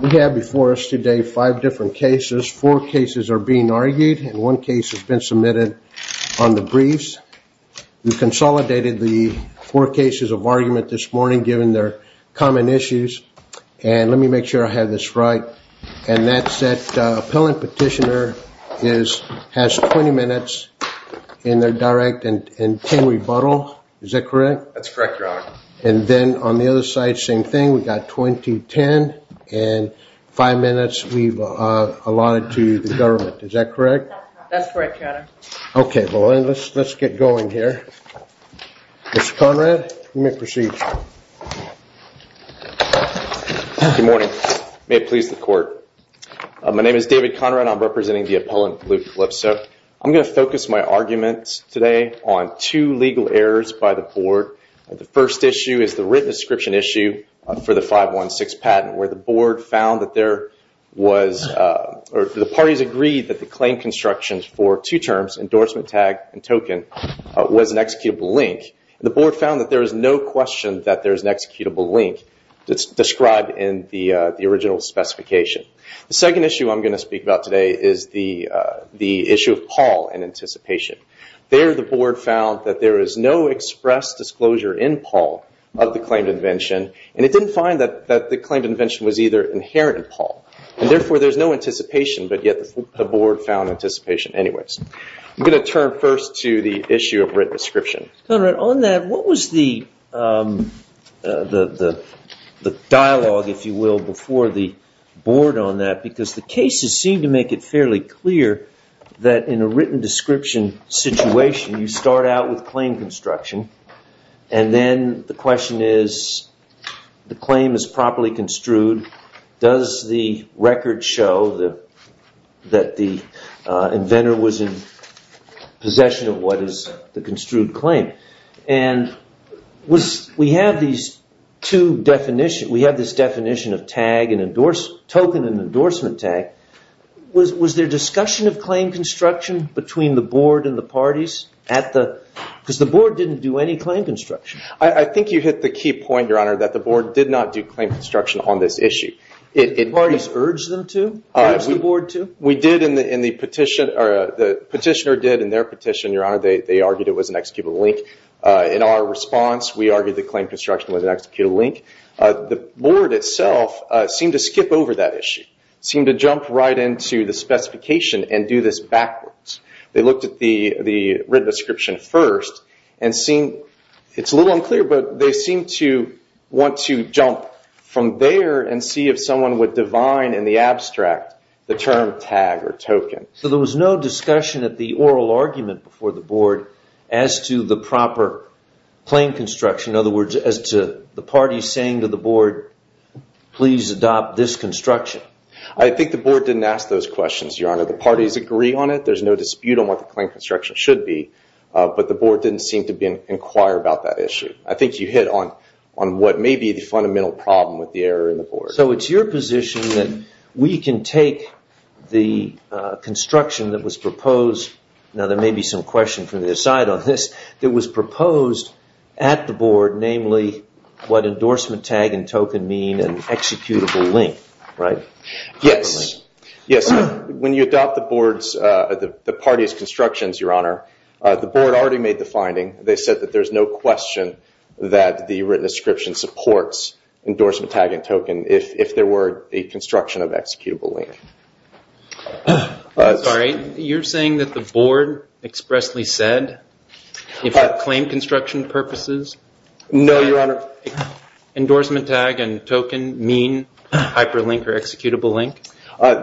We have before us today five different cases. Four cases are being argued, and one case has been submitted on the briefs. We consolidated the four cases of argument this morning, given their common issues. And let me make sure I have this right. And that's that appellant petitioner has 20 minutes in their direct and 10 rebuttal. Is that correct? That's correct, Your Honor. And then on the other side, same thing. We've got 20, 10, and five minutes we've allotted to the government. Is that correct? That's correct, Your Honor. Okay. Well, let's get going here. Mr. Conrad, you may proceed. Good morning. May it please the Court. My name is David Conrad. I'm representing the appellant, Luke Calypso. I'm going to focus my arguments today on two legal errors by the Board. The first issue is the written description issue for the 516 patent, where the parties agreed that the claim constructions for two terms, endorsement tag and token, was an executable link. The Board found that there is no question that there is an executable link described in the original specification. The second issue I'm going to speak about today is the issue of Paul and anticipation. There, the Board found that there is no express disclosure in Paul of the claimed invention, and it didn't find that the claimed invention was either inherent in Paul. And therefore, there's no anticipation, but yet the Board found anticipation anyways. I'm going to turn first to the issue of written description. Mr. Conrad, on that, what was the dialogue, if you will, before the Board on that? Because the cases seem to make it fairly clear that in a written description situation, you start out with claim construction. And then the question is, the claim is properly construed. Does the record show that the inventor was in possession of what is the construed claim? And we have these two definitions. We have this definition of token and endorsement tag. Was there discussion of claim construction between the Board and the parties? Because the Board didn't do any claim construction. I think you hit the key point, Your Honor, that the Board did not do claim construction on this issue. Did the parties urge them to? We did in the petition, or the petitioner did in their petition, Your Honor. They argued it was an executable link. In our response, we argued that claim construction was an executable link. The Board itself seemed to skip over that issue, seemed to jump right into the specification and do this backwards. They looked at the written description first, and it's a little unclear, but they seemed to want to jump from there and see if someone would divine in the abstract the term tag or token. So there was no discussion at the oral argument before the Board as to the proper claim construction, in other words, as to the parties saying to the Board, please adopt this construction? I think the Board didn't ask those questions, Your Honor. The parties agree on it, there's no dispute on what the claim construction should be, but the Board didn't seem to inquire about that issue. I think you hit on what may be the fundamental problem with the error in the Board. So it's your position that we can take the construction that was proposed, now there may be some questions from the other side on this, that was proposed at the Board, namely, what endorsement tag and token mean and executable link, right? Yes, yes. When you adopt the Board's, the parties' constructions, Your Honor, the Board already made the finding. They said that there's no question that the written description supports endorsement tag and token if there were a construction of executable link. Sorry, you're saying that the Board expressly said it had claim construction purposes? No, Your Honor. Endorsement tag and token mean hyperlink or executable link?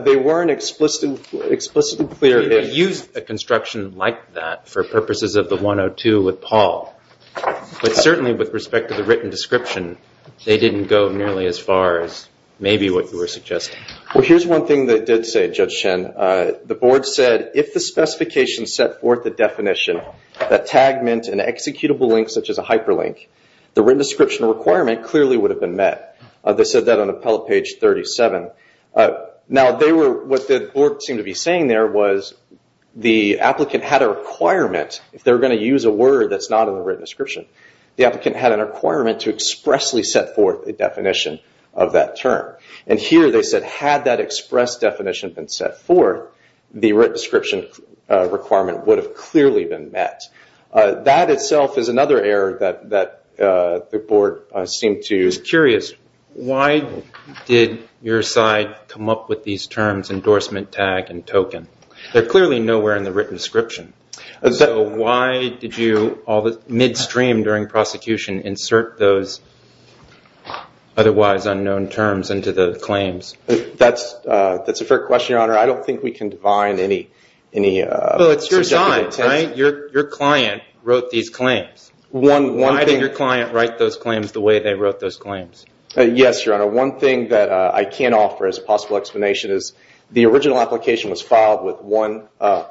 They weren't explicitly clear that they used a construction like that for purposes of the 102 with Paul, but certainly with respect to the written description, they didn't go nearly as far as maybe what you were suggesting. Well, here's one thing they did say, Judge Shen. The Board said if the specification set forth the definition that tag meant an executable link such as a hyperlink, the written description requirement clearly would have been met. They said that on the page 37. Now, what the Board seemed to be saying there was the applicant had a requirement. If they were going to use a word that's not in the written description, the applicant had a requirement to expressly set forth a definition of that term. And here they said had that expressed definition been set forth, the written description requirement would have clearly been met. That itself is another error that the Board seemed to have made. I'm curious. Why did your side come up with these terms, endorsement tag and token? They're clearly nowhere in the written description. So why did you, midstream during prosecution, insert those otherwise unknown terms into the claims? That's a fair question, Your Honor. I don't think we can define any definition. So it's your client, right? Your client wrote these claims. Why did your client write those claims the way they wrote those claims? Yes, Your Honor. One thing that I can offer as a possible explanation is the original application was filed with one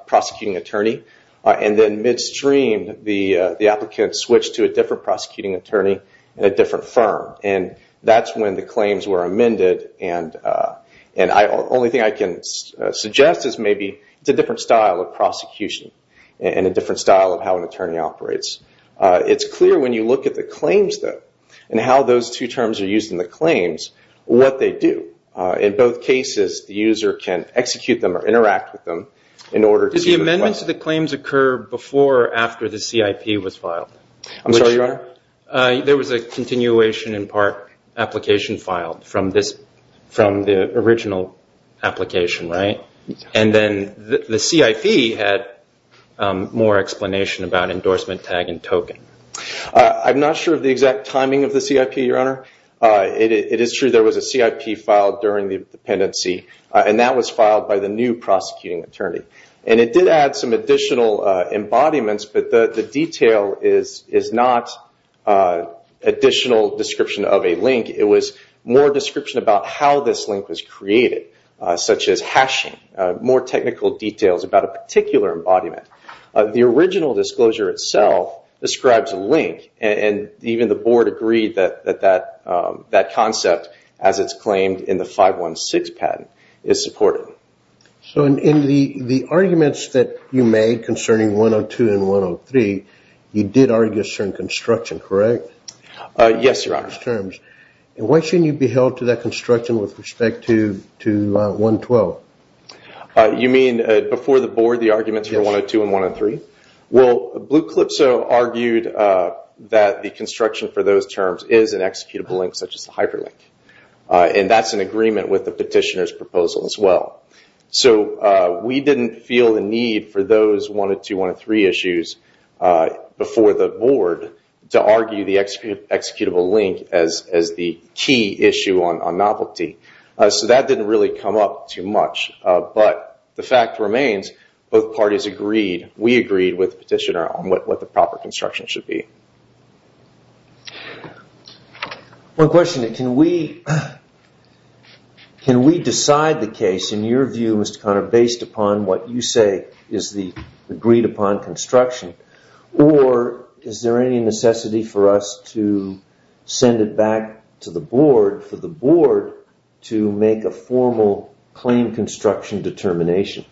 prosecuting attorney. And then midstream, the applicant switched to a different prosecuting attorney at a different firm. And that's when the claims were amended. And the only thing I can suggest is maybe it's a different style of prosecution and a different style of how an attorney operates. It's clear when you look at the claims, though, and how those two terms are used in the claims, what they do. In both cases, the user can execute them or interact with them in order to- Did the amendments to the claims occur before or after the CIP was filed? I'm sorry, Your Honor? There was a continuation in part application filed from the original application, right? And then the CIP had more explanation about endorsement tag and token. I'm not sure of the exact timing of the CIP, Your Honor. It is true there was a CIP filed during the pendency, and that was filed by the new prosecuting attorney. And it did add some additional embodiments, but the detail is not additional description of a link. It was more description about how this link was created, such as hashing. More technical details about a particular embodiment. The original disclosure itself describes a link, and even the board agreed that that concept, as it's claimed in the 516 patent, is supported. So, in the arguments that you made concerning 102 and 103, you did argue a certain construction, correct? Yes, Your Honor. What should be held to that construction with respect to 112? You mean before the board, the arguments for 102 and 103? Well, Bluclipso argued that the construction for those terms is an executable link, such as the hyperlink. And that's in agreement with the petitioner's proposal as well. So, we didn't feel the need for those 102 and 103 issues before the board to argue the executable link as the key issue on Mapplethorpe. So, that didn't really come up too much. But the fact remains, both parties agreed. We agreed with the petitioner on what the proper construction should be. One question. Can we decide the case, in your view, Mr. Conner, based upon what you say is the agreed-upon construction? Or is there any necessity for us to send it back to the board for the board to make a formal, clean construction determination?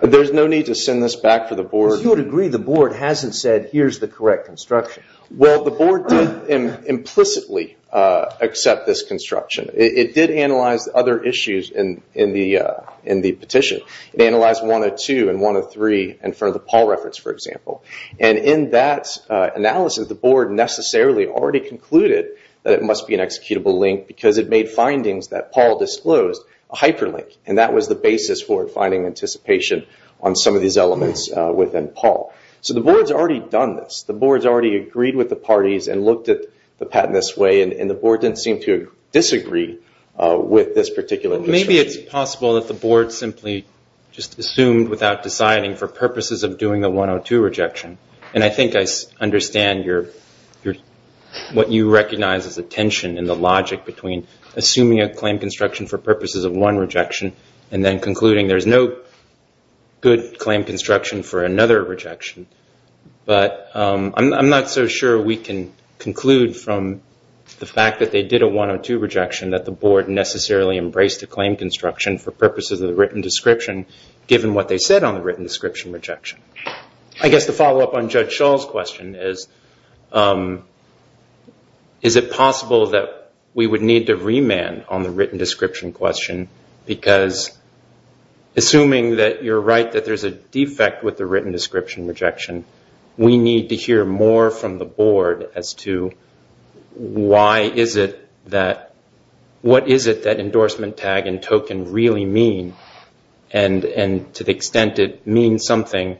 There's no need to send this back to the board. But you would agree the board hasn't said, here's the correct construction. Well, the board could implicitly accept this construction. It did analyze other issues in the petition. It analyzed 102 and 103 in front of the Paul records, for example. And in that analysis, the board necessarily already concluded that it must be an executable link because it made findings that Paul disclosed a hyperlink. And that was the basis for finding anticipation on some of these elements within Paul. So, the board's already done this. The board's already agreed with the parties and looked at the patent this way. And the board didn't seem to disagree with this particular decision. Maybe it's possible that the board simply just assumed without deciding for purposes of doing the 102 rejection. And I think I understand what you recognize as the tension and the logic between assuming a claim construction for purposes of one rejection and then concluding there's no good claim construction for another rejection. But I'm not so sure we can conclude from the fact that they did a 102 rejection that the board necessarily embraced the claim construction for purposes of the written description, given what they said on the written description rejection. I guess the follow-up on Judge Shull's question is, is it possible that we would need to remand on the written description question? Because assuming that you're right that there's a defect with the written description rejection, we need to hear more from the board as to what is it that endorsement tag and token really mean? And to the extent it means something,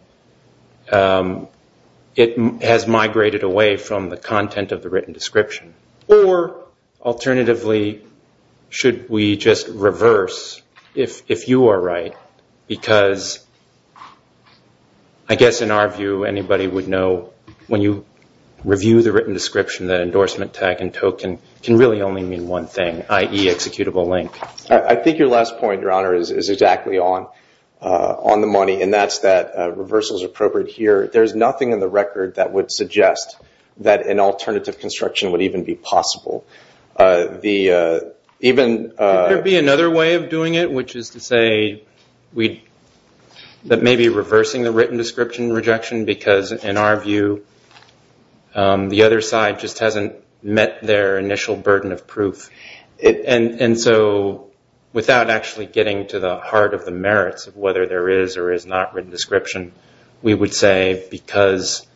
it has migrated away from the content of the written description. Or alternatively, should we just reverse if you are right? Because I guess in our view, anybody would know when you review the written description, the endorsement tag and token can really only mean one thing, i.e. executable link. I think your last point, Your Honor, is exactly on the money, and that's that reversal is appropriate here. There's nothing in the record that would suggest that an alternative construction would even be possible. Could there be another way of doing it, which is to say that maybe reversing the written description rejection? Because in our view, the other side just hasn't met their initial burden of proof. And so without actually getting to the heart of the merits of whether there is or is not written description, we would say because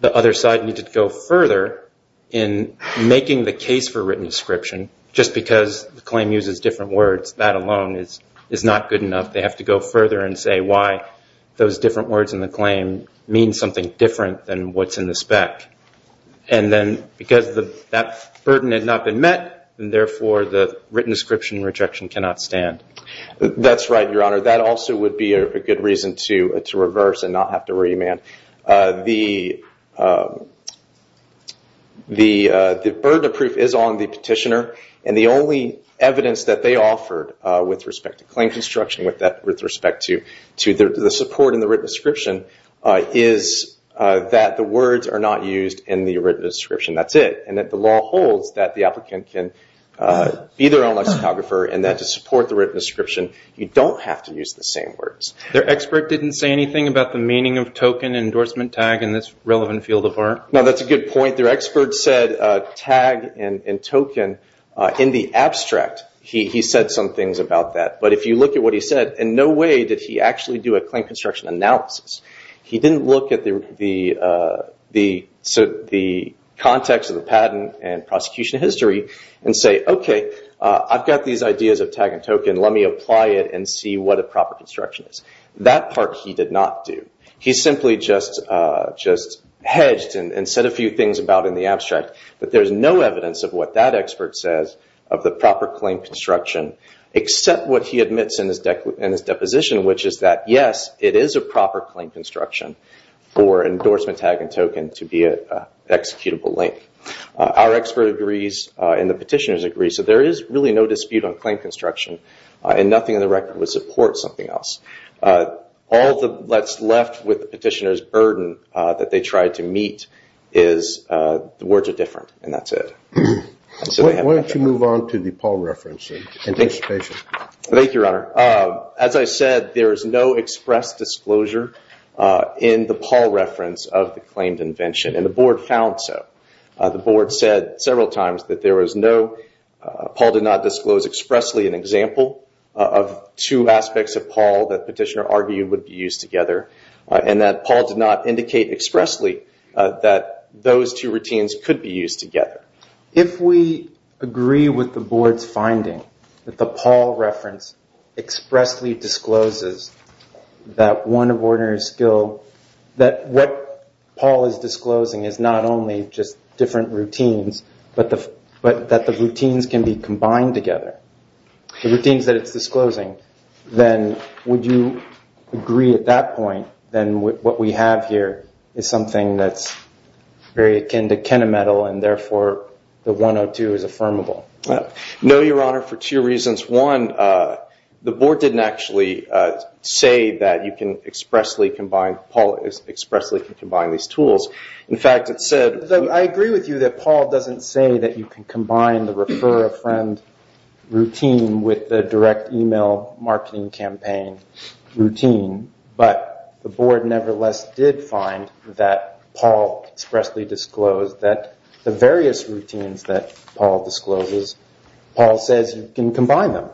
the other side needed to go further in making the case for written description, just because the claim uses different words, that alone is not good enough. They have to go further and say why those different words in the claim mean something different than what's in the spec. And then because that burden had not been met, and therefore the written description rejection cannot stand. That's right, Your Honor. That also would be a good reason to reverse and not have to remand. The burden of proof is on the petitioner, and the only evidence that they offer with respect to claim construction, with respect to the support in the written description, is that the words are not used in the written description. That's it. And that the law holds that the applicant can be their own lexicographer, and that to support the written description, you don't have to use the same words. Their expert didn't say anything about the meaning of token endorsement tag in this relevant field of art? No, that's a good point. Their expert said tag and token in the abstract. He said some things about that, but if you look at what he said, in no way did he actually do a claim construction analysis. He didn't look at the context of the patent and prosecution history and say, okay, I've got these ideas of tag and token, let me apply it and see what a proper construction is. That part he did not do. He simply just hedged and said a few things about it in the abstract, but there's no evidence of what that expert says of the proper claim construction, except what he admits in his deposition, which is that, yes, it is a proper claim construction for endorsement tag and token to be an executable link. Our expert agrees, and the petitioners agree, so there is really no dispute on claim construction, and nothing in the record would support something else. All that's left with the petitioners' burden that they tried to meet is the words are different, and that's it. Why don't you move on to the Paul reference? Thank you, Your Honor. As I said, there is no express disclosure in the Paul reference of the claimed invention, and the board found so. The board said several times that there was no – of two aspects of Paul that the petitioner argued would be used together, and that Paul did not indicate expressly that those two routines could be used together. If we agree with the board's finding that the Paul reference expressly discloses that one of ordinary skill – that what Paul is disclosing is not only just different routines, but that the routines can be combined together. If you think that it's disclosing, then would you agree at that point that what we have here is something that's very akin to Kenna Metal, and therefore the 102 is affirmable? No, Your Honor, for two reasons. One, the board didn't actually say that you can expressly combine – Paul expressly can combine these tools. In fact, it said – I agree with you that Paul doesn't say that you can combine the refer a friend routine with the direct email marketing campaign routine, but the board nevertheless did find that Paul expressly disclosed that the various routines that Paul discloses, Paul says you can combine them.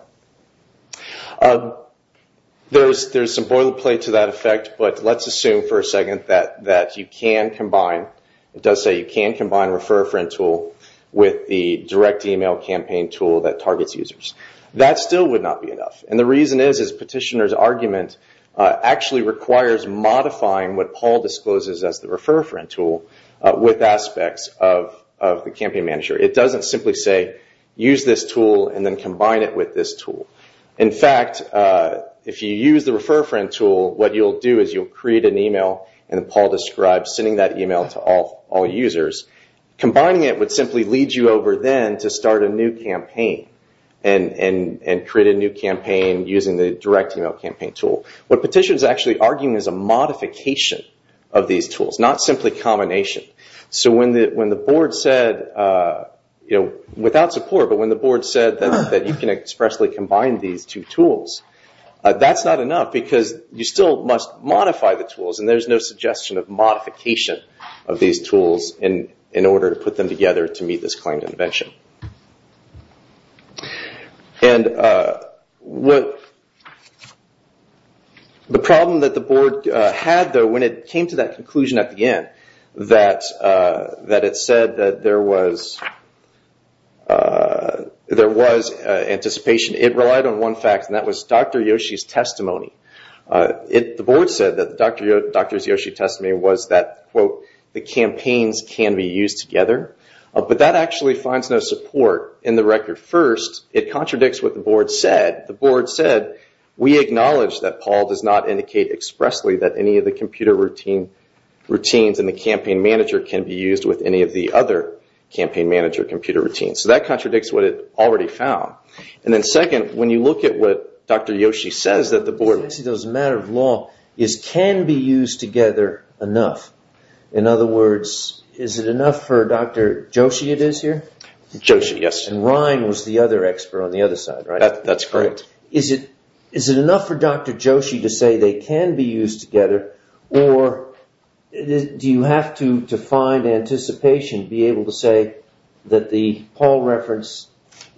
There's some boilerplate to that effect, but let's assume for a second that you can combine – it does say you can combine refer a friend tool with the direct email campaign tool that targets users. That still would not be enough, and the reason is, is petitioner's argument actually requires modifying what Paul discloses as the refer a friend tool with aspects of the campaign manager. It doesn't simply say use this tool and then combine it with this tool. In fact, if you use the refer a friend tool, what you'll do is you'll create an email, and then Paul describes sending that email to all users. Combining it would simply lead you over then to start a new campaign and create a new campaign using the direct email campaign tool. What petitioner's actually arguing is a modification of these tools, not simply combination. When the board said – without support, but when the board said that you can expressly combine these two tools, that's not enough because you still must modify the tools, and there's no suggestion of modification of these tools in order to put them together to meet this kind of invention. The problem that the board had, though, when it came to that conclusion at the end that it said that there was anticipation, it relied on one fact, and that was Dr. Yoshi's testimony. The board said that Dr. Yoshi's testimony was that, quote, the campaigns can be used together, but that actually finds no support in the record. First, it contradicts what the board said. The board said, we acknowledge that Paul does not indicate expressly that any of the computer routines in the campaign manager can be used with any of the other campaign manager computer routines. That contradicts what it already found. Second, when you look at what Dr. Yoshi says that the board – It's a matter of law. It can be used together enough. In other words, is it enough for Dr. Yoshi it is here? Yoshi, yes. And Ryan was the other expert on the other side, right? That's correct. Is it enough for Dr. Yoshi to say they can be used together, or do you have to find anticipation to be able to say that the Paul reference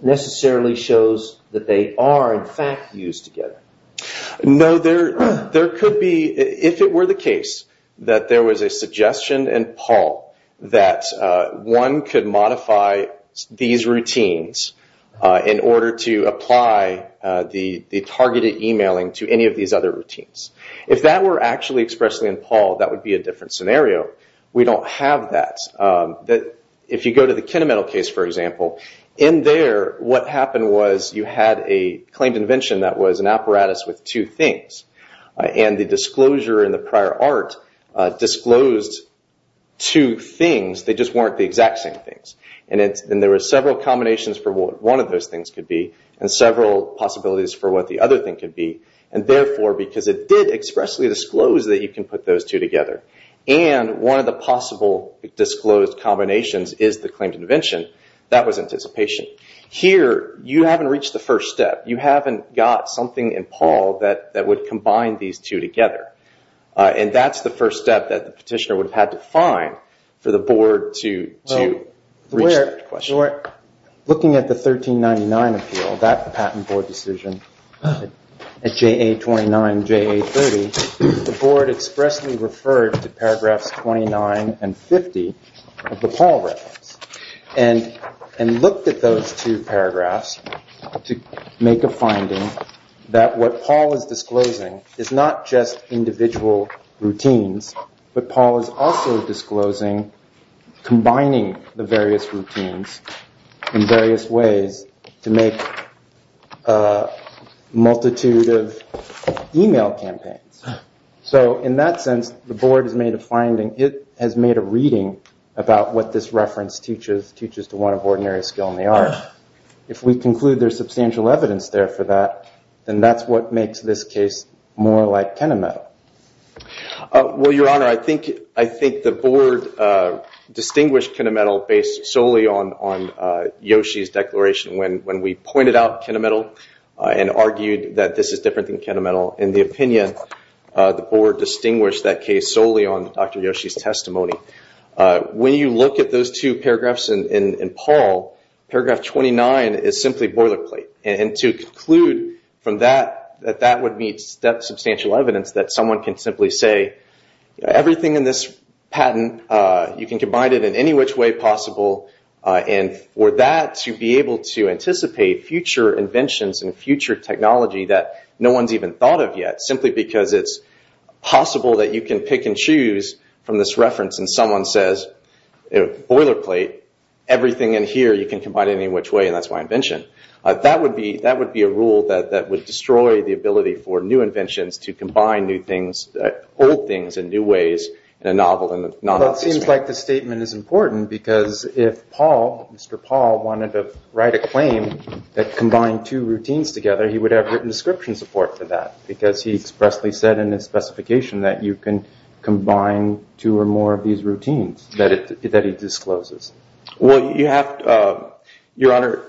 necessarily shows that they are, in fact, used together? No, there could be – if it were the case that there was a suggestion in Paul that one could modify these routines in order to apply the targeted emailing to any of these other routines. If that were actually expressed in Paul, that would be a different scenario. We don't have that. If you go to the KineMetal case, for example, in there what happened was you had a claimed invention that was an apparatus with two things. The disclosure in the prior art disclosed two things. They just weren't the exact same things. There were several combinations for what one of those things could be and several possibilities for what the other thing could be. Therefore, because it did expressly disclose that you can put those two together and one of the possible disclosed combinations is the claimed invention, that was anticipation. Here, you haven't reached the first step. You haven't got something in Paul that would combine these two together. That's the first step that the petitioner would have had to find for the board to reach a question. Looking at the 1399 appeal, that's the Patent Board decision, at JA 29 and JA 30, the board expressly referred to paragraphs 29 and 50 of the Paul reference and looked at those two paragraphs to make a finding that what Paul is disclosing is not just individual routines, but Paul is also disclosing combining the various routines in various ways to make a multitude of email campaigns. In that sense, the board has made a finding. It has made a reading about what this reference teaches to one of ordinary skill in the arts. If we conclude there's substantial evidence there for that, then that's what makes this case more like Kenna Metal. Well, Your Honor, I think the board distinguished Kenna Metal based solely on Yoshi's declaration when we pointed out Kenna Metal and argued that this is different than Kenna Metal. In the opinion, the board distinguished that case solely on Dr. Yoshi's testimony. When you look at those two paragraphs in Paul, paragraph 29 is simply boilerplate. To conclude from that, that would be substantial evidence that someone can simply say, everything in this patent, you can combine it in any which way possible, and for that to be able to anticipate future inventions and future technology that no one's even thought of yet, simply because it's possible that you can pick and choose from this reference and someone says, boilerplate, everything in here, you can combine it in any which way, and that's my invention. That would be a rule that would destroy the ability for new inventions to combine new things, old things in new ways, the novel and the non-novel. Well, it seems like this statement is important because if Mr. Paul wanted to write a claim that combined two routines together, he would have written description support for that because he expressly said in his specification that you can combine two or more of these routines that he discloses. Well, your honor,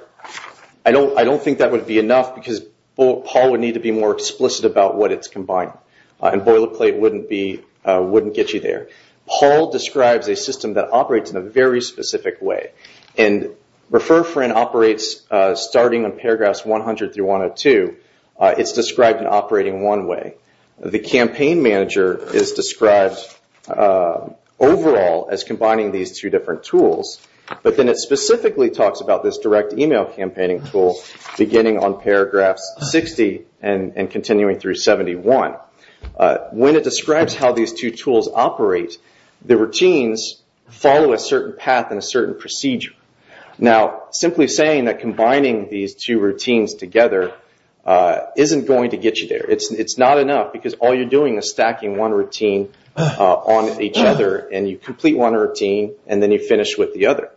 I don't think that would be enough because Paul would need to be more explicit about what it's combining, and boilerplate wouldn't get you there. Paul describes a system that operates in a very specific way, and Refer Friend operates starting in paragraphs 100 through 102. It's described in operating one way. The campaign manager is described overall as combining these two different tools, but then it specifically talks about this direct email campaigning tool beginning on paragraph 60 and continuing through 71. When it describes how these two tools operate, the routines follow a certain path and a certain procedure. Now, simply saying that combining these two routines together isn't going to get you there. It's not enough because all you're doing is stacking one routine on each other, and you complete one routine, and then you finish with the other.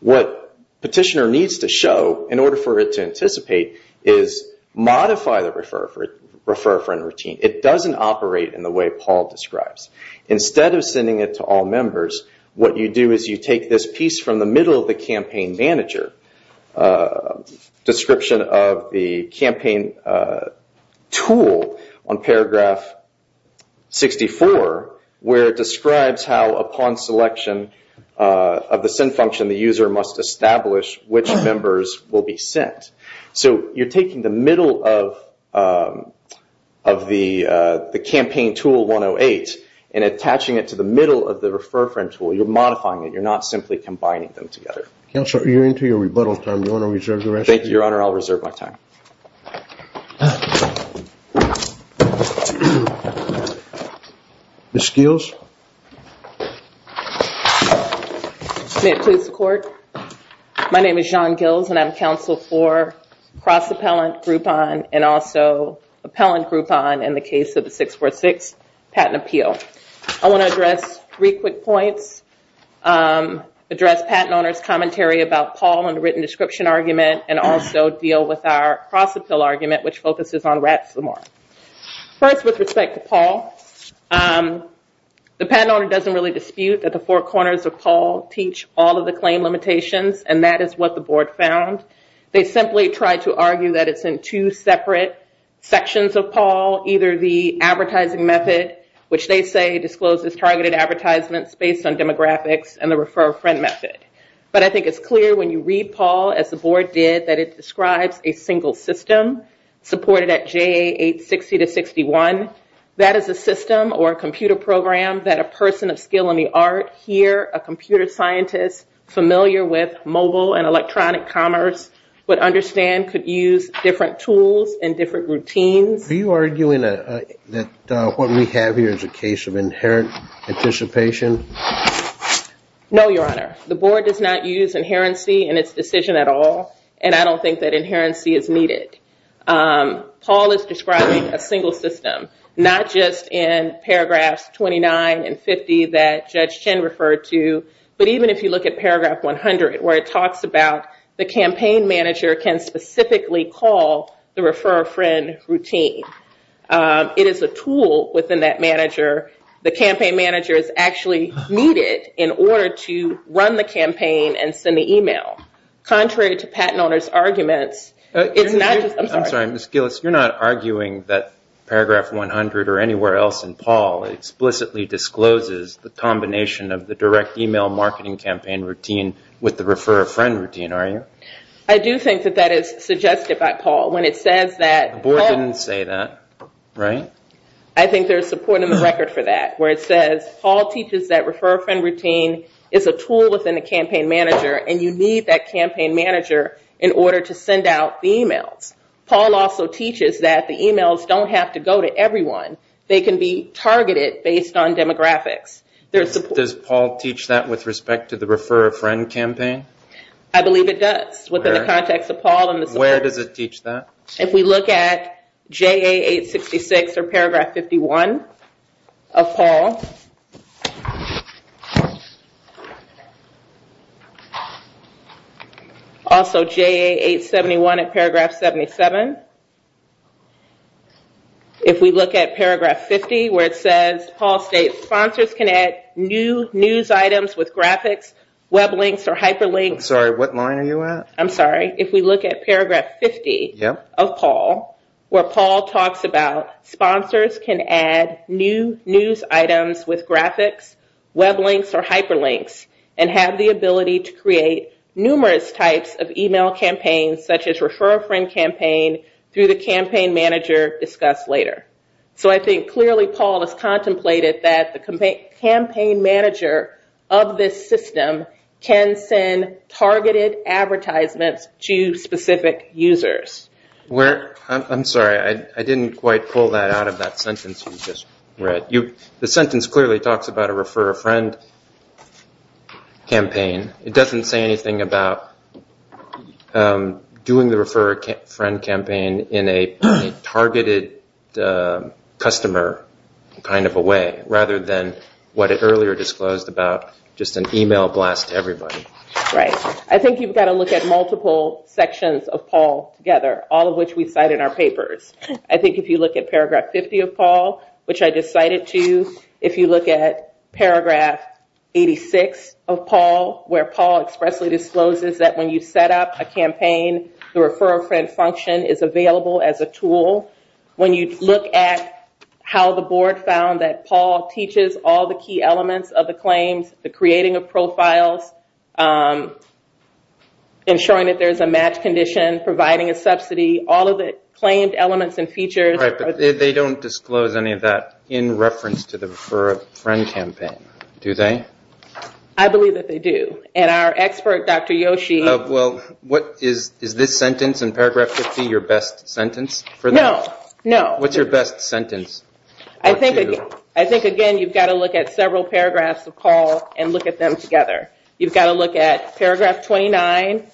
What Petitioner needs to show in order for it to anticipate is modify the Refer Friend routine. It doesn't operate in the way Paul describes. Instead of sending it to all members, what you do is you take this piece from the middle of the campaign manager description of the campaign tool on paragraph 64, where it describes how upon selection of the send function, the user must establish which members will be sent. You're taking the middle of the campaign tool 108 and attaching it to the middle of the Refer Friend tool. You're modifying it. You're not simply combining them together. Counselor, you're into your rebuttal time. Do you want to reserve the rest of your time? Thank you, Your Honor. I'll reserve my time. Ms. Steeles? May it please the Court? My name is John Gills, and I'm counsel for cross-appellant Groupon and also appellant Groupon in the case of the 646 patent appeal. I want to address three quick points, address patent owner's commentary about Paul in the written description argument, and also deal with our cross-appeal argument, which focuses on rats no more. First, with respect to Paul, the patent owner doesn't really dispute that the four corners of Paul teach all of the claim limitations, and that is what the Board found. They simply tried to argue that it's in two separate sections of Paul, either the advertising method, which they say discloses targeted advertisements based on demographics, and the Refer Friend method. But I think it's clear when you read Paul, as the Board did, that it describes a single system supported at JA 860-61. That is a system or a computer program that a person of skill in the arts, here a computer scientist familiar with mobile and electronic commerce, would understand to use different tools and different routines. Are you arguing that what we have here is a case of inherent anticipation? No, Your Honor. The Board does not use inherency in its decision at all, and I don't think that inherency is needed. Paul is describing a single system, not just in paragraphs 29 and 50 that Judge Chen referred to, but even if you look at paragraph 100, where it talks about the campaign manager can specifically call the Refer Friend routine. It is a tool within that manager. The campaign manager is actually muted in order to run the campaign and send the email. Contrary to the patent owner's argument, it's not just a tool. I'm sorry, Ms. Gillis. You're not arguing that paragraph 100 or anywhere else in Paul explicitly discloses the combination of the direct email marketing campaign routine with the Refer Friend routine, are you? I do think that that is suggested by Paul. The Board didn't say that, right? I think there's support in the record for that, where it says Paul teaches that Refer Friend routine is a tool within the campaign manager, and you need that campaign manager in order to send out the email. Paul also teaches that the emails don't have to go to everyone. They can be targeted based on demographics. Does Paul teach that with respect to the Refer Friend campaign? I believe it does within the context of Paul. Where does it teach that? If we look at JA 866 or paragraph 51 of Paul, also JA 871 at paragraph 77, if we look at paragraph 50, where it says, Paul states sponsors can add new news items with graphics, web links, or hyperlinks. I'm sorry, what line are you at? I'm sorry. If we look at paragraph 50 of Paul, where Paul talks about sponsors can add new news items with graphics, web links, or hyperlinks, and have the ability to create numerous types of email campaigns, such as Refer Friend campaign, through the campaign manager discussed later. I think clearly Paul has contemplated that the campaign manager of this system can send targeted advertisements to specific users. I'm sorry. I didn't quite pull that out of that sentence you just read. The sentence clearly talks about a Refer Friend campaign. It doesn't say anything about doing the Refer Friend campaign in a targeted customer kind of a way, rather than what is earlier disclosed about just an email blast to everybody. Right. I think you've got to look at multiple sections of Paul together, all of which we cite in our papers. I think if you look at paragraph 50 of Paul, which I just cited to you, if you look at paragraph 86 of Paul, where Paul expressly discloses that when you set up a campaign, the Refer Friend function is available as a tool. When you look at how the board found that Paul teaches all the key elements of the claim, the creating of profiles, ensuring that there's a match condition, providing a subsidy, all of the claimed elements and features. They don't disclose any of that in reference to the Refer Friend campaign, do they? I believe that they do. Our expert, Dr. Yoshi. Is this sentence in paragraph 50 your best sentence? No, no. What's your best sentence? I think, again, you've got to look at several paragraphs of Paul and look at them together. You've got to look at paragraph 29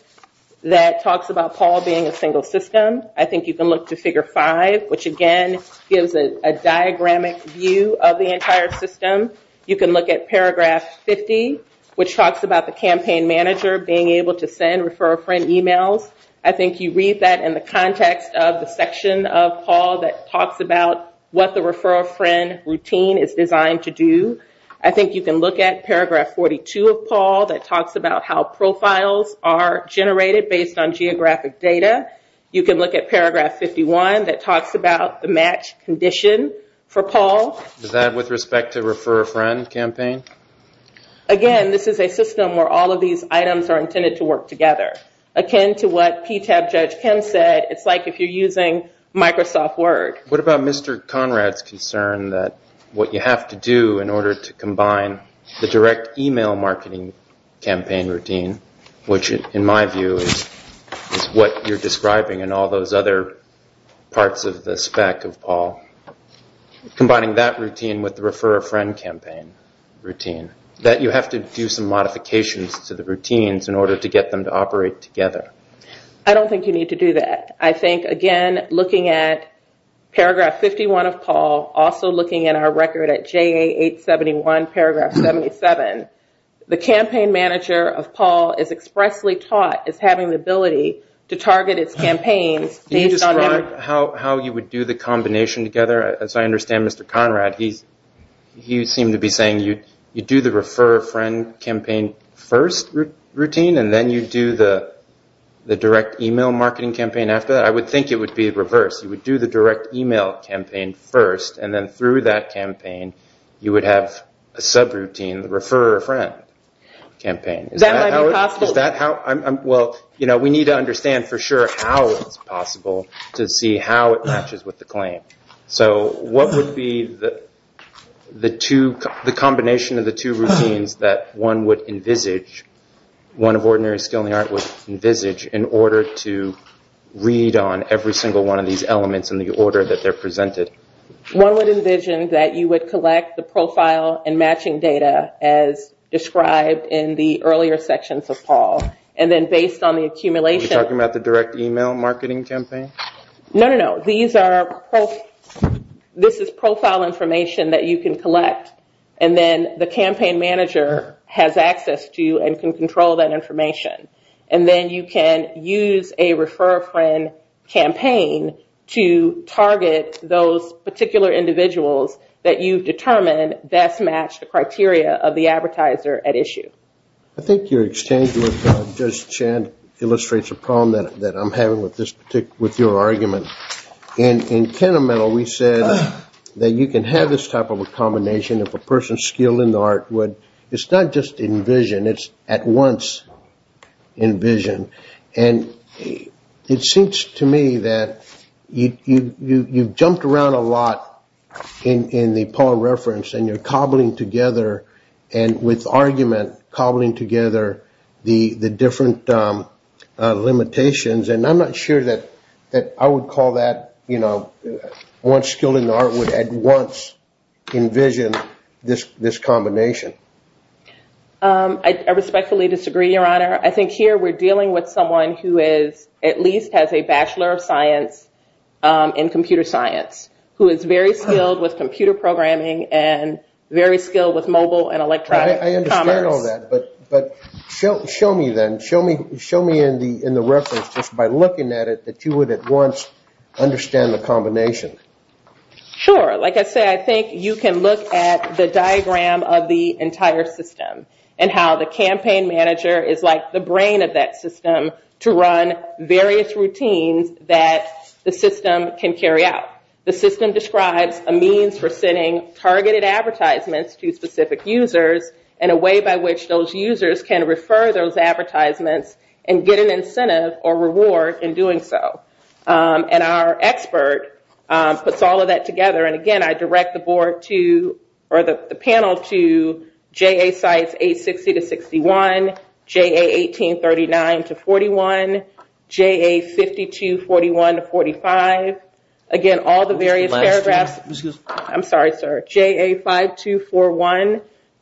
that talks about Paul being a single system. I think you can look to figure five, which, again, gives a diagramic view of the entire system. You can look at paragraph 50, which talks about the campaign manager being able to send Refer Friend emails. I think you read that in the context of the section of Paul that talks about what the Refer Friend routine is designed to do. I think you can look at paragraph 42 of Paul that talks about how profiles are generated based on geographic data. You can look at paragraph 51 that talks about the match condition for Paul. Is that with respect to Refer Friend campaign? Again, this is a system where all of these items are intended to work together, akin to what PTAB Judge Kim said, it's like if you're using Microsoft Word. What about Mr. Conrad's concern that what you have to do in order to combine the direct email marketing campaign routine, which, in my view, is what you're describing and all those other parts of the spec of Paul, combining that routine with the Refer Friend campaign routine, that you have to do some modifications to the routines in order to get them to operate together? I don't think you need to do that. I think, again, looking at paragraph 51 of Paul, also looking at our record at JA871 paragraph 77, the campaign manager of Paul is expressly taught as having the ability to target his campaign. Can you describe how you would do the combination together? As I understand, Mr. Conrad, he seemed to be saying you do the Refer Friend campaign first routine and then you do the direct email marketing campaign after. I would think it would be reversed. You would have a subroutine Refer Friend campaign. Is that how it's possible? Is that how? Well, we need to understand for sure how it's possible to see how it matches with the claim. So what would be the combination of the two routines that one would envisage, one of ordinary skill in the art would envisage, in order to read on every single one of these elements in the order that they're presented? One would envision that you would collect the profile and matching data as described in the earlier section for Paul, and then based on the accumulation. Are you talking about the direct email marketing campaign? No, no, no. These are profile information that you can collect, and then the campaign manager has access to and can control that information. And then you can use a Refer Friend campaign to target those particular individuals that you've determined best match the criteria of the advertiser at issue. I think your exchange with Judge Chan illustrates a problem that I'm having with your argument. In Tenemental, we said that you can have this type of a combination of a person's skill in the art. It's not just envision. It's at once envision. And it seems to me that you've jumped around a lot in the Paul reference and you're cobbling together, and with argument, cobbling together the different limitations. And I'm not sure that I would call that, you know, at once envision this combination. I respectfully disagree, Your Honor. I think here we're dealing with someone who at least has a Bachelor of Science in Computer Science, who is very skilled with computer programming and very skilled with mobile and electronic commerce. I understand all that, but show me then. Show me in the reference just by looking at it that you would at once understand the combination. Sure. Like I said, I think you can look at the diagram of the entire system and how the campaign manager is like the brain of that system to run various routines that the system can carry out. The system describes a means for sending targeted advertisements to specific users and a way by which those users can refer those advertisements and get an incentive or reward in doing so. And our expert puts all of that together. And, again, I direct the board to or the panel to JA CITES 860-61, JA 1839-41, JA 5241-45. Again, all the various paragraphs. Excuse me. I'm sorry, sir. JA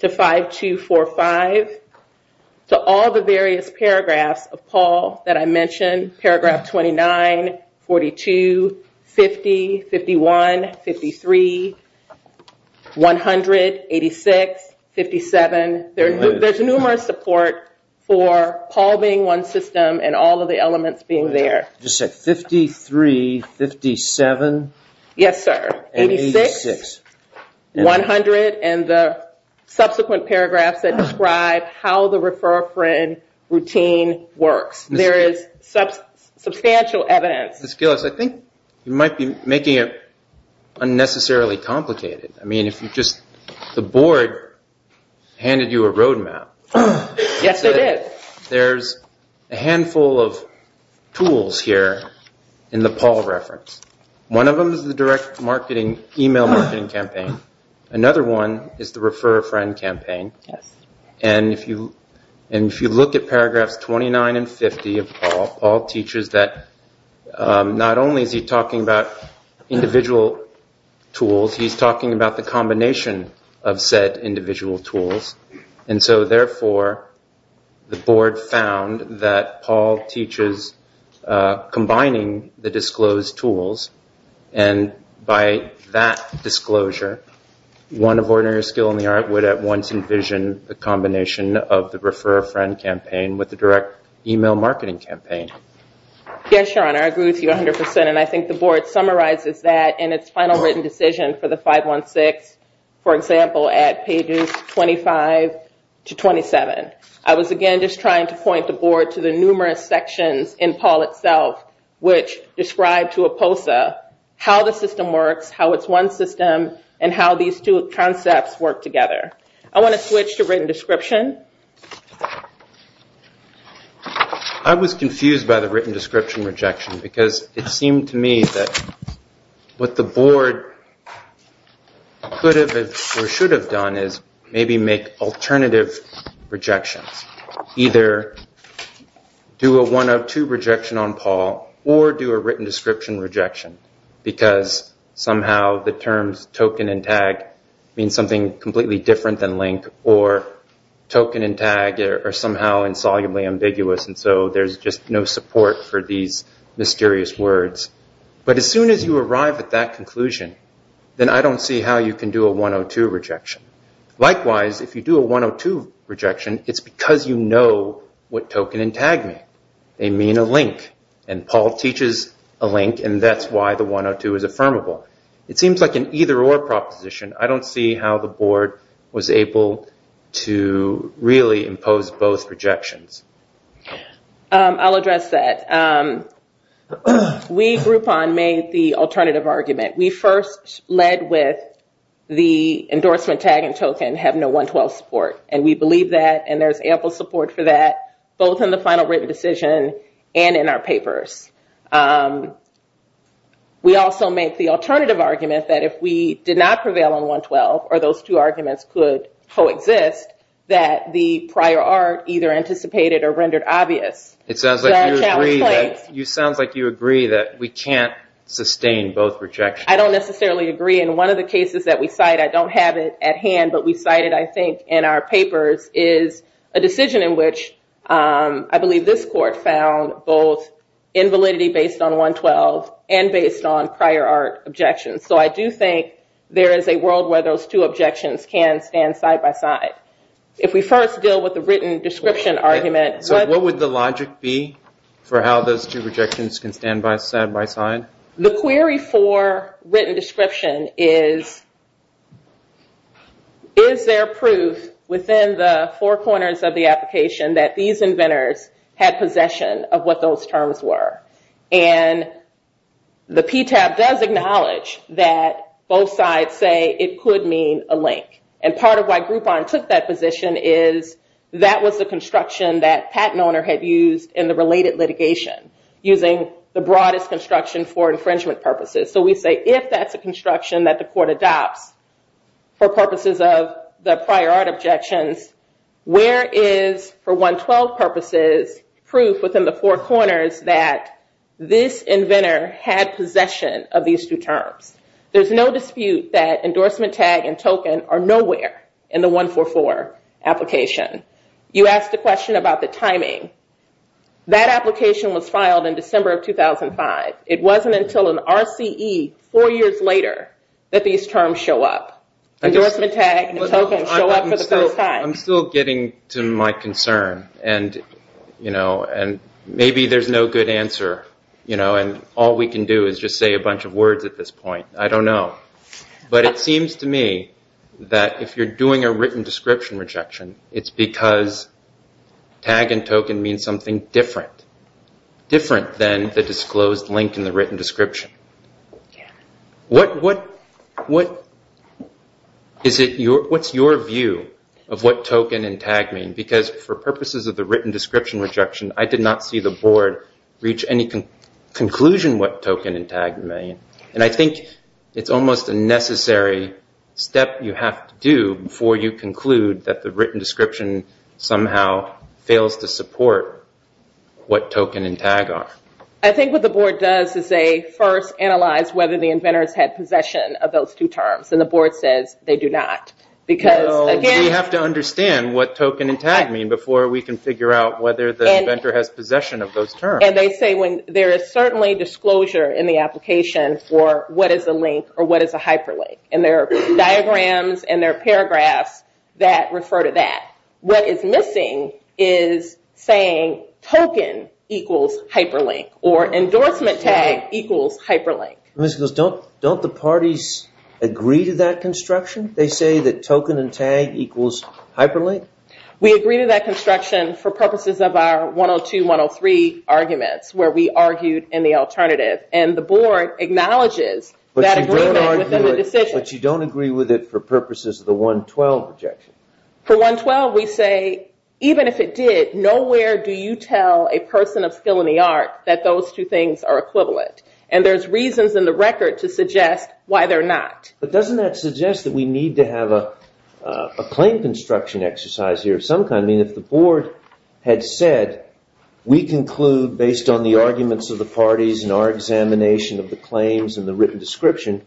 5241-5245. All the various paragraphs of Paul that I mentioned, paragraph 29, 42, 50, 51, 53, 100, 86, 57. There's numerous support for Paul being one system and all of the elements being there. 53, 57. Yes, sir. 86, 100, and the subsequent paragraphs that describe how the refer-a-friend routine works. There is substantial evidence. Ms. Gillis, I think you might be making it unnecessarily complicated. I mean, if you just, the board handed you a roadmap. Yes, it did. There's a handful of tools here in the Paul reference. One of them is the direct marketing email marketing campaign. Another one is the refer-a-friend campaign. If you look at paragraphs 29 and 50 of Paul, Paul teaches that not only is he talking about individual tools, he's talking about the combination of said individual tools. Therefore, the board found that Paul teaches combining the disclosed tools. By that disclosure, one of ordinary skill in the art would at once envision the combination of the refer-a-friend campaign with the direct email marketing campaign. Yes, Sean, I agree with you 100%. I think the board summarizes that in its final written decision for the 516, for example, at pages 25 to 27. I was, again, just trying to point the board to the numerous sections in Paul itself which describe to a POSA how the system works, how it's one system, and how these two concepts work together. I want to switch to written description. I was confused by the written description rejection because it seemed to me that what the board could have or should have done is maybe make alternative rejection, either do a 102 rejection on Paul or do a written description rejection because somehow the terms token and tag mean something completely different than link or token and tag are somehow insolubly ambiguous and so there's just no support for these mysterious words. But as soon as you arrive at that conclusion, then I don't see how you can do a 102 rejection. Likewise, if you do a 102 rejection, it's because you know what token and tag mean. They mean a link and Paul teaches a link and that's why the 102 is affirmable. It seems like an either or proposition. I don't see how the board was able to really impose both rejections. I'll address that. We, Groupon, made the alternative argument. We first led with the endorsement tag and token had no 112 support and we believe that and there's ample support for that both in the final written decision and in our papers. We also made the alternative argument that if we did not prevail on 112 or those two arguments could coexist, that the prior art either anticipated or rendered obvious. It sounds like you agree that we can't sustain both rejections. I don't necessarily agree and one of the cases that we cite, I don't have it at hand but we cited I think in our papers, is a decision in which I believe this court found both invalidity based on 112 and based on prior art objections. So I do think there is a world where those two objections can stand side by side. If we first deal with the written description argument, What would the logic be for how those two objections can stand side by side? The query for written description is, is there proof within the four corners of the application that these inventors had possession of what those terms were? And the PTAB does acknowledge that both sides say it could mean a link and part of why Groupon took that position is that was the construction that patent owner had used in the related litigation using the broadest construction for infringement purposes. So we say if that's the construction that the court adopts for purposes of the prior art objection, where is for 112 purposes proof within the four corners that this inventor had possession of these two terms? There's no dispute that endorsement tag and token are nowhere in the 144 application. You asked the question about the timing. That application was filed in December of 2005. It wasn't until an RCE four years later that these terms show up. Endorsement tag and token show up for the first time. I'm still getting to my concern and maybe there's no good answer. All we can do is just say a bunch of words at this point. I don't know. But it seems to me that if you're doing a written description rejection, it's because tag and token mean something different. Different than the disclosed link in the written description. What's your view of what token and tag mean? Because for purposes of the written description rejection, I did not see the board reach any conclusion what token and tag mean. I think it's almost a necessary step you have to do before you conclude that the written description somehow fails to support what token and tag are. I think what the board does is they first analyze whether the inventor had possession of those two terms. The board says they do not. We have to understand what token and tag mean before we can figure out whether the inventor has possession of those terms. They say there is certainly disclosure in the application for what is the link or what is the hyperlink. There are diagrams and there are paragraphs that refer to that. What is missing is saying token equals hyperlink or endorsement tag equals hyperlink. Don't the parties agree to that construction? They say that token and tag equals hyperlink? We agree to that construction for purposes of our 102-103 arguments where we argued in the alternative. The board acknowledges that agreement within the decision. But you don't agree with it for purposes of the 112 objection? For 112, we say even if it did, nowhere do you tell a person of skill in the arts that those two things are equivalent. There's reasons in the record to suggest why they're not. But doesn't that suggest that we need to have a claim construction exercise here of some kind? If the board had said, we conclude based on the arguments of the parties and our examination of the claims and the written description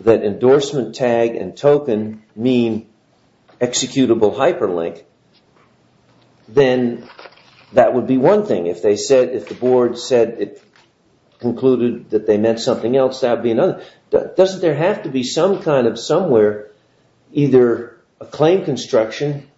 that endorsement tag and token mean executable hyperlink, then that would be one thing. If the board said it concluded that they meant something else, that would be another. Doesn't there have to be some kind of somewhere, either a claim construction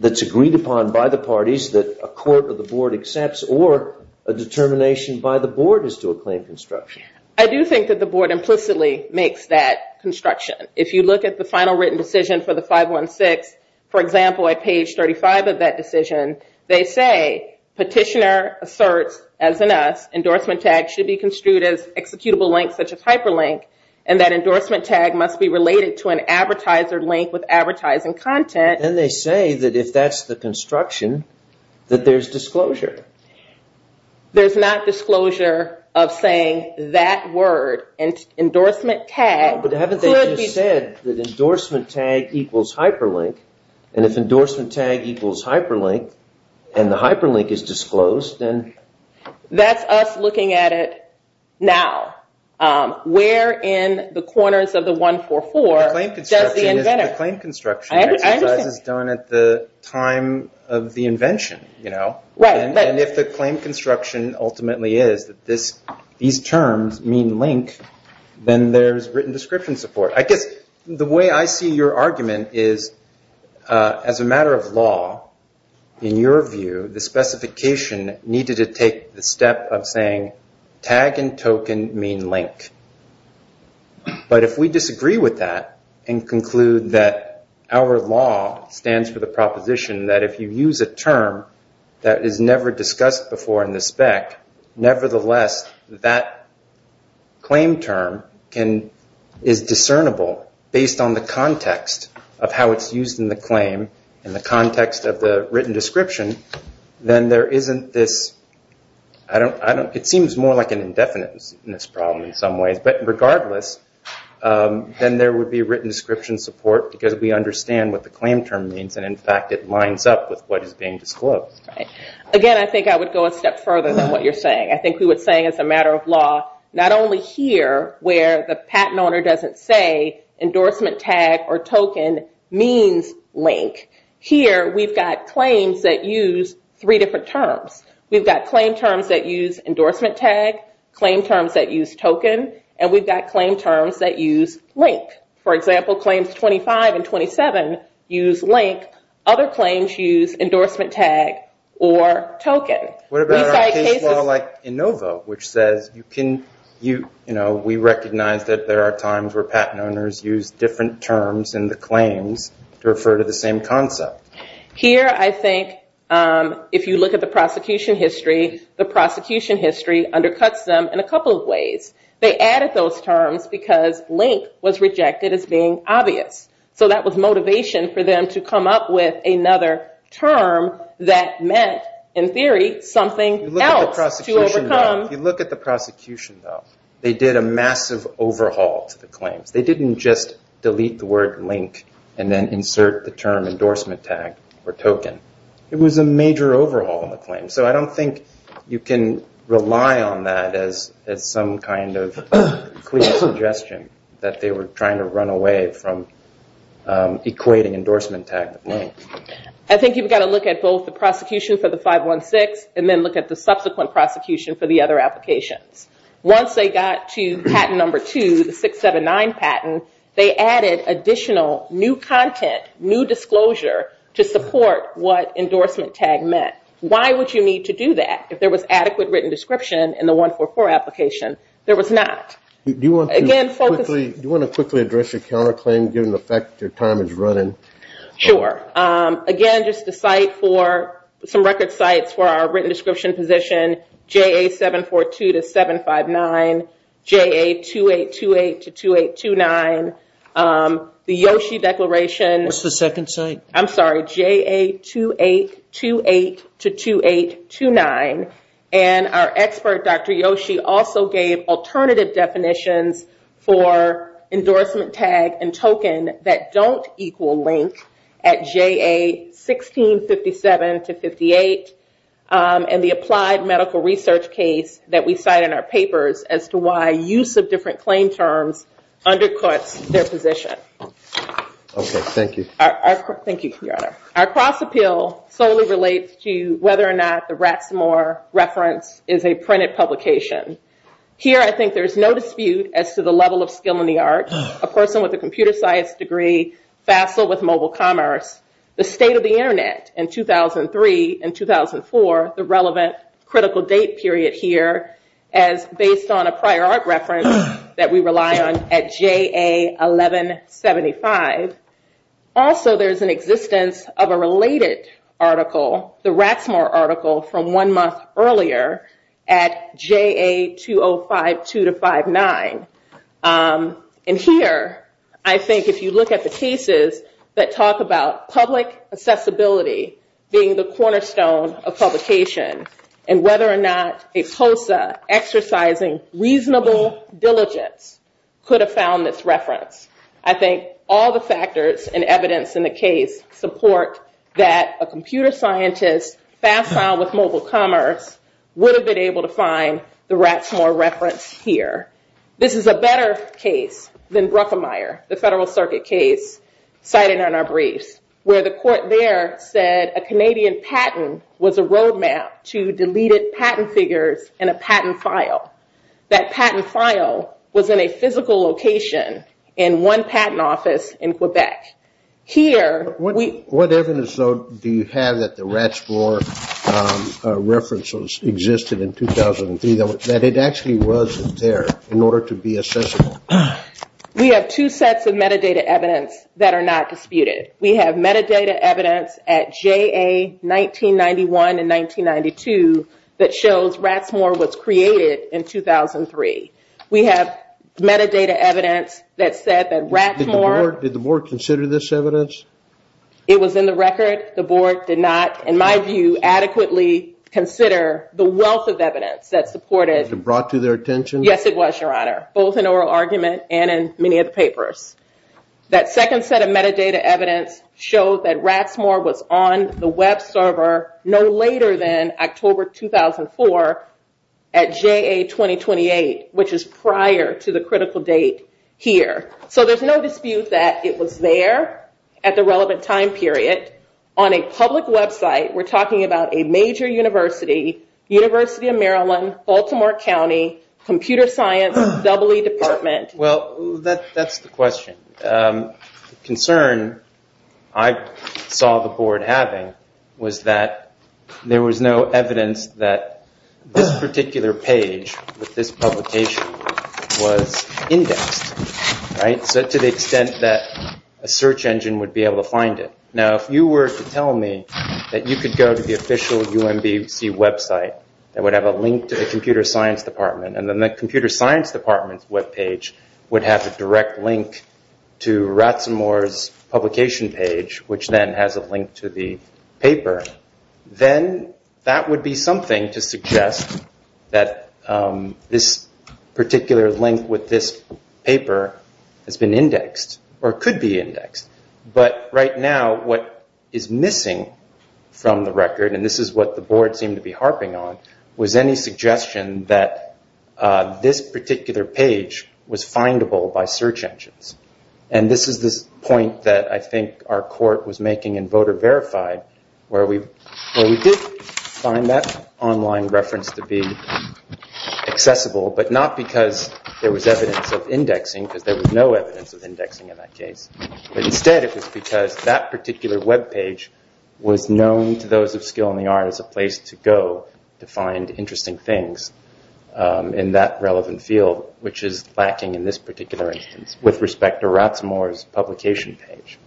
that's agreed upon by the parties that a court or the board accepts or a determination by the board as to a claim construction? I do think that the board implicitly makes that construction. If you look at the final written decision for the 516, for example, at page 35 of that decision, they say petitioner asserts, as in us, that endorsement tag should be construed as executable link such as hyperlink and that endorsement tag must be related to an advertiser link with advertising content. And they say that if that's the construction, that there's disclosure. There's not disclosure of saying that word. Endorsement tag could be... But haven't they just said that endorsement tag equals hyperlink? And if endorsement tag equals hyperlink and the hyperlink is disclosed, then... That's us looking at it now. Where in the corners of the 144 does the inventor... If the claim construction is done at the time of the invention, you know. And if the claim construction ultimately is that these terms mean link, then there's written description support. I guess the way I see your argument is, as a matter of law, in your view, the specification needed to take the step of saying, tag and token mean link. But if we disagree with that and conclude that our law stands for the proposition that if you use a term that is never discussed before in the spec, nevertheless, that claim term is discernible based on the context of how it's used in the claim and the context of the written description, then there isn't this... It seems more like an indefiniteness problem in some ways. But regardless, then there would be written description support because we understand what the claim term means and, in fact, it lines up with what is being disclosed. Again, I think I would go a step further than what you're saying. I think we would say, as a matter of law, not only here where the patent owner doesn't say endorsement tag or token means link. Here, we've got claims that use three different terms. We've got claim terms that use endorsement tag, claim terms that use token, and we've got claim terms that use link. For example, claims 25 and 27 use link. Other claims use endorsement tag or token. What about a law like ENOVA, which says, we recognize that there are times where patent owners use different terms in the claim to refer to the same concept. Here, I think, if you look at the prosecution history, the prosecution history undercuts them in a couple of ways. They added those terms because link was rejected as being obvious. So that was motivation for them to come up with another term that meant, in theory, something else to overcome. If you look at the prosecution, though, they did a massive overhaul of the claim. They didn't just delete the word link and then insert the term endorsement tag or token. It was a major overhaul of the claim. So I don't think you can rely on that as some kind of quick suggestion that they were trying to run away from equating endorsement tag with link. I think you've got to look at both the prosecution for the 516 and then look at the subsequent prosecution for the other application. Once they got to patent number 2, the 679 patent, they added additional new content, new disclosure, to support what endorsement tag meant. Why would you need to do that? If there was adequate written description in the 144 application, there was not. Do you want to quickly address your counterclaim given the fact that your time is running? Sure. Again, just the site for some record sites for our written description position, JA-742-759, JA-2828-2829, the Yoshi Declaration... That's the second site. I'm sorry, JA-2828-2829, and our expert, Dr. Yoshi, also gave alternative definitions for endorsement tag and token that don't equal link at JA-1657-58 and the applied medical research case that we cite in our papers as to why use of different claim terms undercuts their position. Okay. Thank you. Thank you, Your Honor. Our cross-appeal solely relates to whether or not the Rathmore reference is a printed publication. Here, I think there's no dispute as to the level of skill in the arts. A person with a computer science degree, facile with mobile commerce, the state of the Internet in 2003 and 2004, the relevant critical date period here as based on a prior art reference that we rely on at JA-1175. Also, there's an existence of a related article, the Rathmore article, from one month earlier at JA-2052-59. And here, I think if you look at the cases that talk about public accessibility being the cornerstone of publication and whether or not a POSA exercising reasonable diligence could have found this reference, I think all the factors and evidence in the case support that a computer scientist, facile with mobile commerce, would have been able to find the Rathmore reference here. This is a better case than Ruckemeyer, the Federal Circuit case cited in our brief, where the court there said a Canadian patent was a road map to deleted patent figures in a patent file. That patent file was in a physical location in one patent office in Quebec. What evidence do you have that the Rathmore reference existed in 2003? That it actually was there in order to be accessible? We have two sets of metadata evidence that are not disputed. We have metadata evidence at JA-1991 and 1992 that shows Rathmore was created in 2003. We have metadata evidence that said that Rathmore... Did the board consider this evidence? It was in the record. The board did not, in my view, adequately consider the wealth of evidence that supported... Was it brought to their attention? Yes, it was, Your Honor, both in oral argument and in many of the papers. That second set of metadata evidence shows that Rathmore was on the web server no later than October 2004 at JA-2028, which is prior to the critical date here. So there's no dispute that it was there at the relevant time period. On a public website, we're talking about a major university, University of Maryland, Baltimore County, computer science, EE department. Well, that's the question. The concern I saw the board having was that there was no evidence that this particular page with this publication was indexed, right? To the extent that a search engine would be able to find it. Now, if you were to tell me that you could go to the official UMBS website that would have a link to the computer science department and then the computer science department's webpage would have a direct link to Rathmore's publication page, which then has a link to the paper, then that would be something to suggest that this particular link with this paper has been indexed or could be indexed. But right now, what is missing from the record, and this is what the board seemed to be harping on, was any suggestion that this particular page was findable by search engines. And this is the point that I think our court was making in voter verified where we did find that online reference to be accessible, but not because there was evidence of indexing, because there was no evidence of indexing in that case. Instead, it was because that particular webpage was known to those of skill in the art as a place to go to find interesting things in that relevant field, which is lacking in this particular instance with respect to Rathmore's publication page.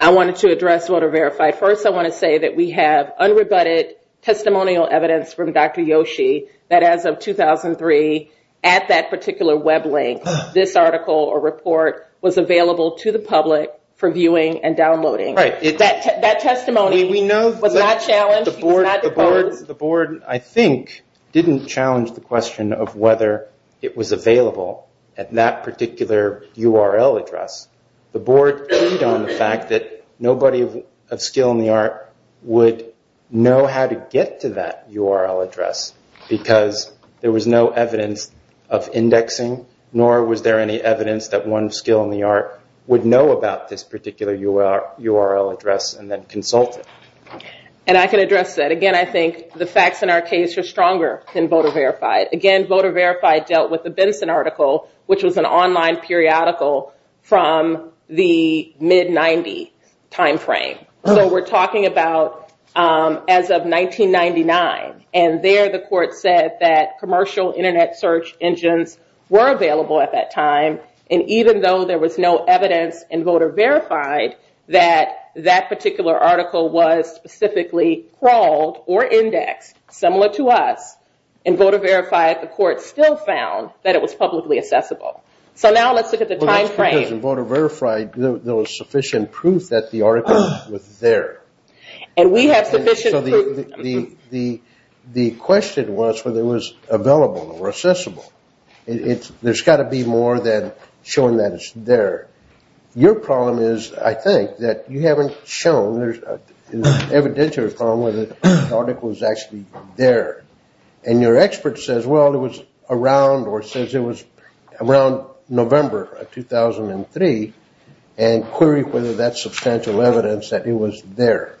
I wanted to address voter verified. First, I want to say that we have unrebutted testimonial evidence from Dr. Yoshi that as of 2003, at that particular web link, this article or report was available to the public for viewing and downloading. That testimony was not challenged. The board, I think, didn't challenge the question of whether it was available at that particular URL address. The board agreed on the fact that nobody of skill in the art would know how to get to that URL address because there was no evidence of indexing nor was there any evidence that one skill in the art would know about this particular URL address and then consult it. And I can address that. Again, I think the facts in our case are stronger than voter verified. Again, voter verified dealt with the Benson article, which was an online periodical from the mid-'90s time frame. So we're talking about as of 1999, and there the court said that And even though there was no evidence in voter verified that that particular article was specifically crawled or indexed, similar to us, in voter verified, the court still found that it was publicly accessible. So now let's look at the time frame. In voter verified, there was sufficient proof that the article was there. And we have sufficient proof. The question was whether it was available or accessible. There's got to be more than showing that it's there. Your problem is, I think, that you haven't shown there's an evidential problem whether the article was actually there. And your expert says, well, it was around or says it was around November of 2003 and queried whether that's substantial evidence that it was there.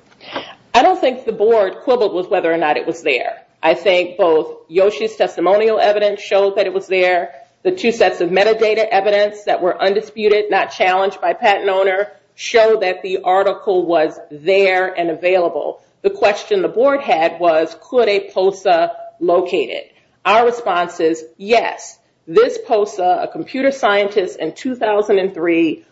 I don't think the board quibbled with whether or not it was there. I think both Yoshi's testimonial evidence showed that it was there. The two sets of metadata evidence that were undisputed, not challenged by patent owner, showed that the article was there and available. The question the board had was, could a POSA locate it? Our response is, yes. This POSA, a computer scientist in 2003,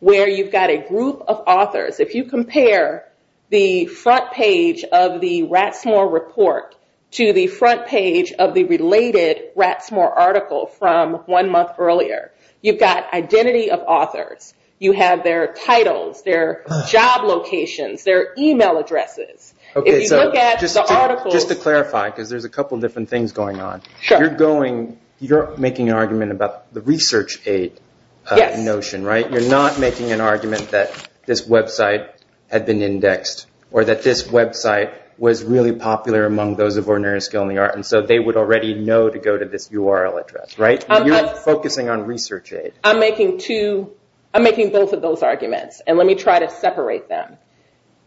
where you've got a group of authors. If you compare the front page of the Ratsmore report to the front page of the related Ratsmore article from one month earlier, you've got identity of authors. You have their titles, their job locations, their email addresses. If you look at the articles... Just to clarify, because there's a couple different things going on. You're making an argument about the research aid notion, right? You're not making an argument that this website had been indexed or that this website was really popular among those of ordinary skill in the art. They would already know to go to this URL address, right? You're focusing on research aid. I'm making both of those arguments. Let me try to separate them.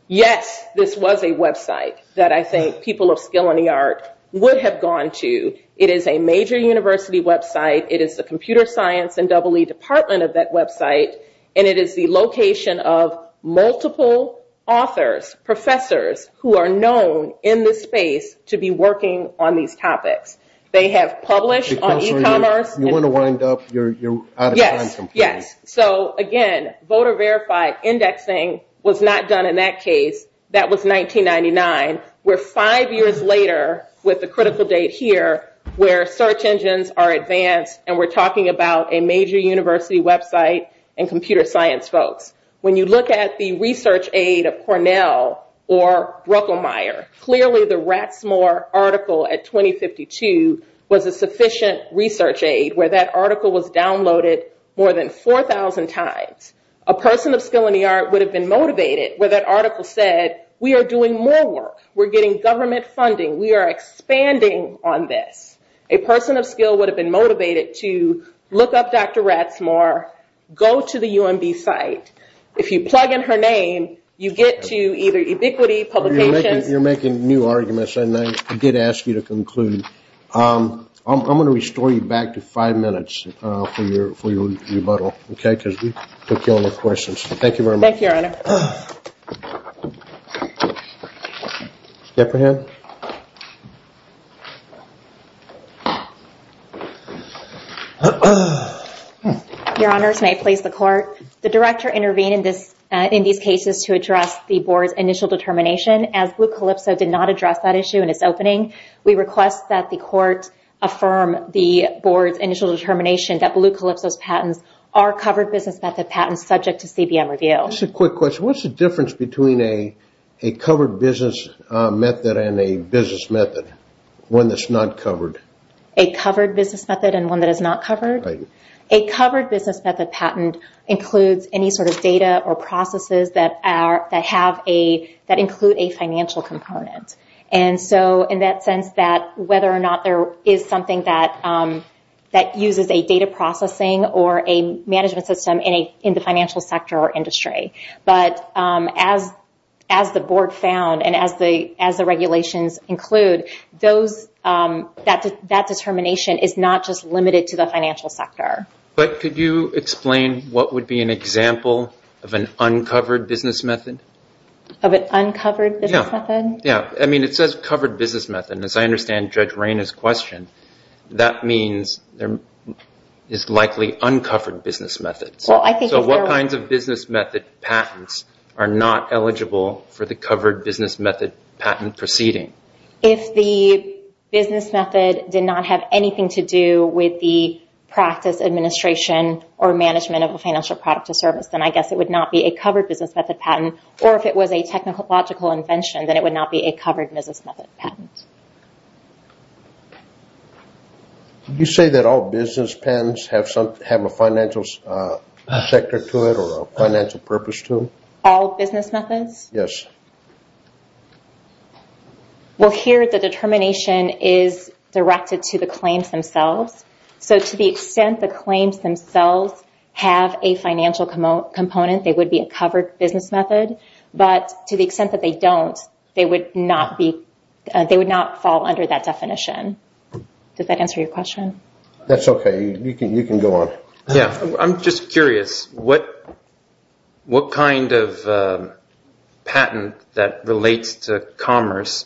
Yes, this was a website that I think people of skill in the art would have gone to. It is a major university website. It is the computer science and EE department of that website, and it is the location of multiple authors, professors who are known in this space to be working on these topics. They have published on e-commerce. You want to wind up. You're out of time. Yes. Again, voter-verified indexing was not done in that case. That was 1999. We're five years later with the critical date here where search engines are advanced and we're talking about a major university website and computer science folks. When you look at the research aid of Cornell or Ruckelmeyer, clearly the Rasmore article at 2052 was a sufficient research aid where that article was downloaded more than 4,000 times. A person of skill in the art would have been motivated where that article said we are doing more work. We're getting government funding. We are expanding on this. A person of skill would have been motivated to look up Dr. Rasmore, go to the UMD site. If you plug in her name, you get to either ubiquity, publication. You're making new arguments, and I did ask you to conclude. I'm going to restore you back to five minutes for your rebuttal, because we took down the questions. Thank you very much. Thank you, Rainer. Thank you, Rainer. Your Honors, may I please the court? The Director intervened in these cases to address the Board's initial determination. As Blue Calypso did not address that issue in its opening, we request that the court affirm the Board's initial determination that Blue Calypso's patents are covered business method patents subject to CBN review. Just a quick question. What's the difference between a covered business method and a business method, one that's not covered? A covered business method and one that is not covered? Right. A covered business method patent includes any sort of data or processes that include a financial component. And so in that sense that whether or not there is something that uses a data processing or a management system in the financial sector or industry. But as the Board found and as the regulations include, that determination is not just limited to the financial sector. But could you explain what would be an example of an uncovered business method? Of an uncovered business method? Yeah. I mean, it says covered business method. And as I understand Judge Rayna's question, that means it's likely uncovered business methods. So what kinds of business method patents are not eligible for the covered business method patent proceeding? If the business method did not have anything to do with the practice, administration, or management of a financial product or service, then I guess it would not be a covered business method patent. Or if it was a technological invention, then it would not be a covered business method patent. Did you say that all business patents have a financial sector to it or a financial purpose to them? All business methods? Yes. Well, here the determination is directed to the claims themselves. So to the extent the claims themselves have a financial component, it would be a covered business method. But to the extent that they don't, they would not fall under that definition. Does that answer your question? That's okay. You can go on. Yeah. I'm just curious. What kind of patent that relates to commerce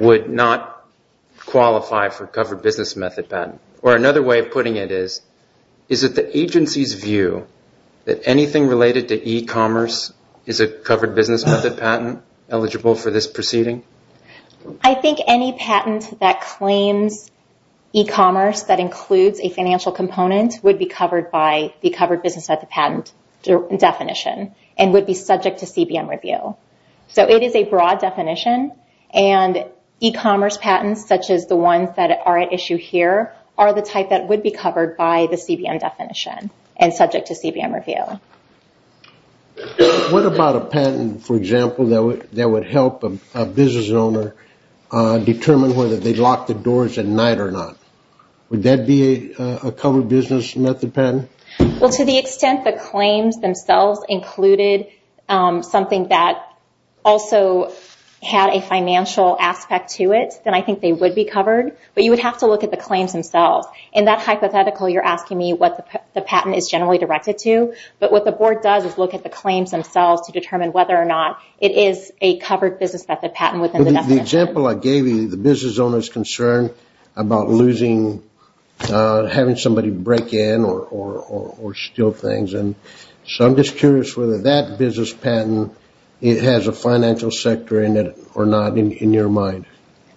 would not qualify for covered business method patent? Or another way of putting it is, is it the agency's view that anything related to e-commerce is a covered business method patent eligible for this proceeding? I think any patent that claims e-commerce that includes a financial component would be covered by the covered business method patent definition and would be subject to CBM review. So it is a broad definition, and e-commerce patents such as the ones that are at issue here are the type that would be covered by the CBM definition and subject to CBM review. What about a patent, for example, that would help a business owner determine whether they locked the doors at night or not? Would that be a covered business method patent? Well, to the extent that claims themselves included something that also had a financial aspect to it, then I think they would be covered. But you would have to look at the claims themselves. In that hypothetical, you're asking me what the patent is generally directed to. But what the board does is look at the claims themselves to determine whether or not it is a covered business method patent within the definition. The example I gave you, the business owner's concern about losing, having somebody break in or steal things. So I'm just curious whether that business patent has a financial sector in it or not in your mind.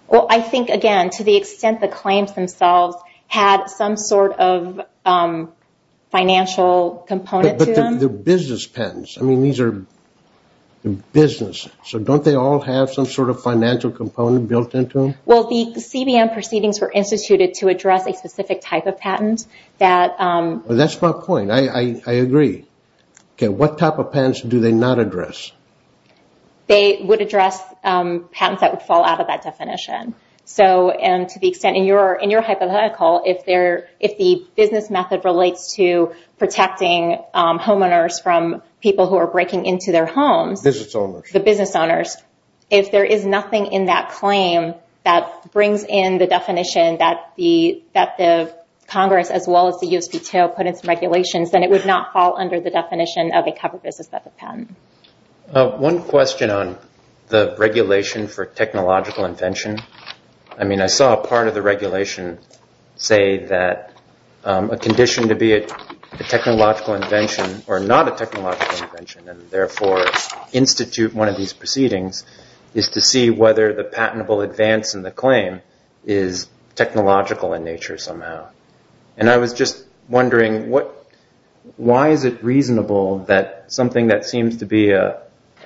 Well, I think, again, to the extent the claims themselves had some sort of financial component to them. But the business patents. I mean, these are businesses. So don't they all have some sort of financial component built into them? Well, the CBM proceedings were instituted to address a specific type of patent that... That's my point. I agree. Okay, what type of patents do they not address? They would address patents that would fall out of that definition. So, and to the extent in your hypothetical, if the business method relates to protecting homeowners from people who are breaking into their homes... The business owners. The business owners. If there is nothing in that claim that brings in the definition that the Congress then it would not fall under the definition of a covered business method patent. One question on the regulation for technological invention. I mean, I saw a part of the regulation say that a condition to be a technological invention or not a technological invention and therefore institute one of these proceedings is to see whether the patentable advance in the claim is technological in nature somehow. And I was just wondering, why is it reasonable that something that seems to be a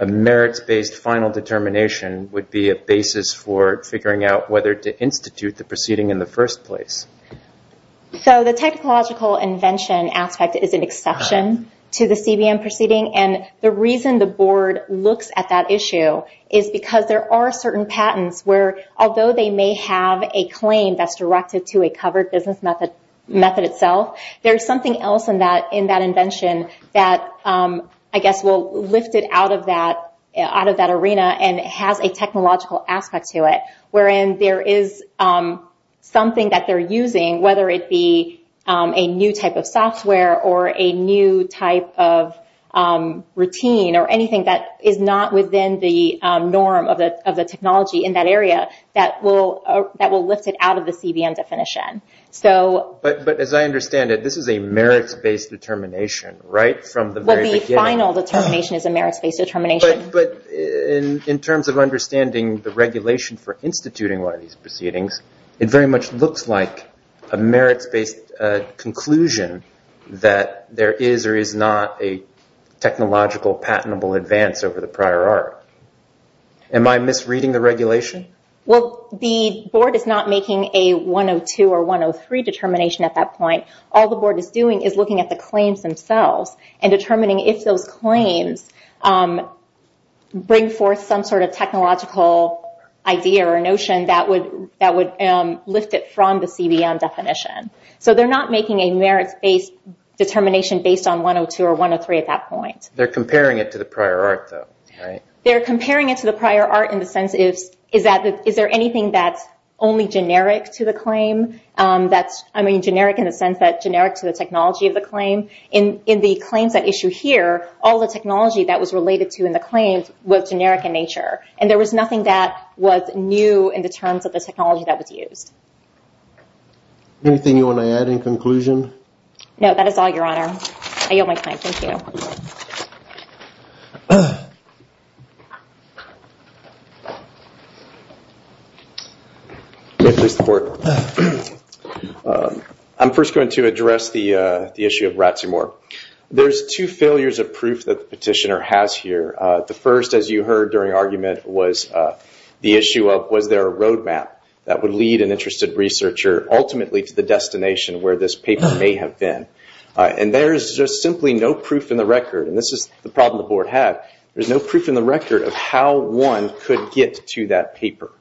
merits-based final determination would be a basis for figuring out whether to institute the proceeding in the first place? So, the technological invention aspect is an exception to the CBM proceeding and the reason the board looks at that issue is because there are certain patents where although they may have a claim that's directed to a covered business method itself, there's something else in that invention that I guess will lift it out of that arena and have a technological aspect to it, wherein there is something that they're using, whether it be a new type of software or a new type of routine or anything that is not within the norm of the technology in that area that will lift it out of the CBM definition. But as I understand it, this is a merits-based determination, right? Well, the final determination is a merits-based determination. But in terms of understanding the regulation for instituting one of these proceedings, it very much looks like a merits-based conclusion that there is or is not a technological patentable advance over the prior art. Am I misreading the regulation? Well, the board is not making a 102 or 103 determination at that point. All the board is doing is looking at the claims themselves and determining if those claims bring forth some sort of technological idea or notion that would lift it from the CBM definition. So they're not making a merits-based determination based on 102 or 103 at that point. They're comparing it to the prior art though, right? They're comparing it to the prior art in the sense is, is there anything that's only generic to the claim? I mean, generic in the sense that it's generic to the technology of the claim. In the claims at issue here, all the technology that was related to in the claims was generic in nature. And there was nothing that was new in the terms of the technology that was used. Anything you want to add in conclusion? No, that is all, Your Honor. I yield my time. Thank you. Thank you, Your Honor. I'm first going to address the issue of Ratsimore. There's two failures of proof that the petitioner has here. The first, as you heard during argument, was the issue of was there a roadmap that would lead an interested researcher ultimately to the destination where this paper may have been. And there's just simply no proof in the record. And this is the problem the Board had. There's no proof in the record of how one could get to that paper,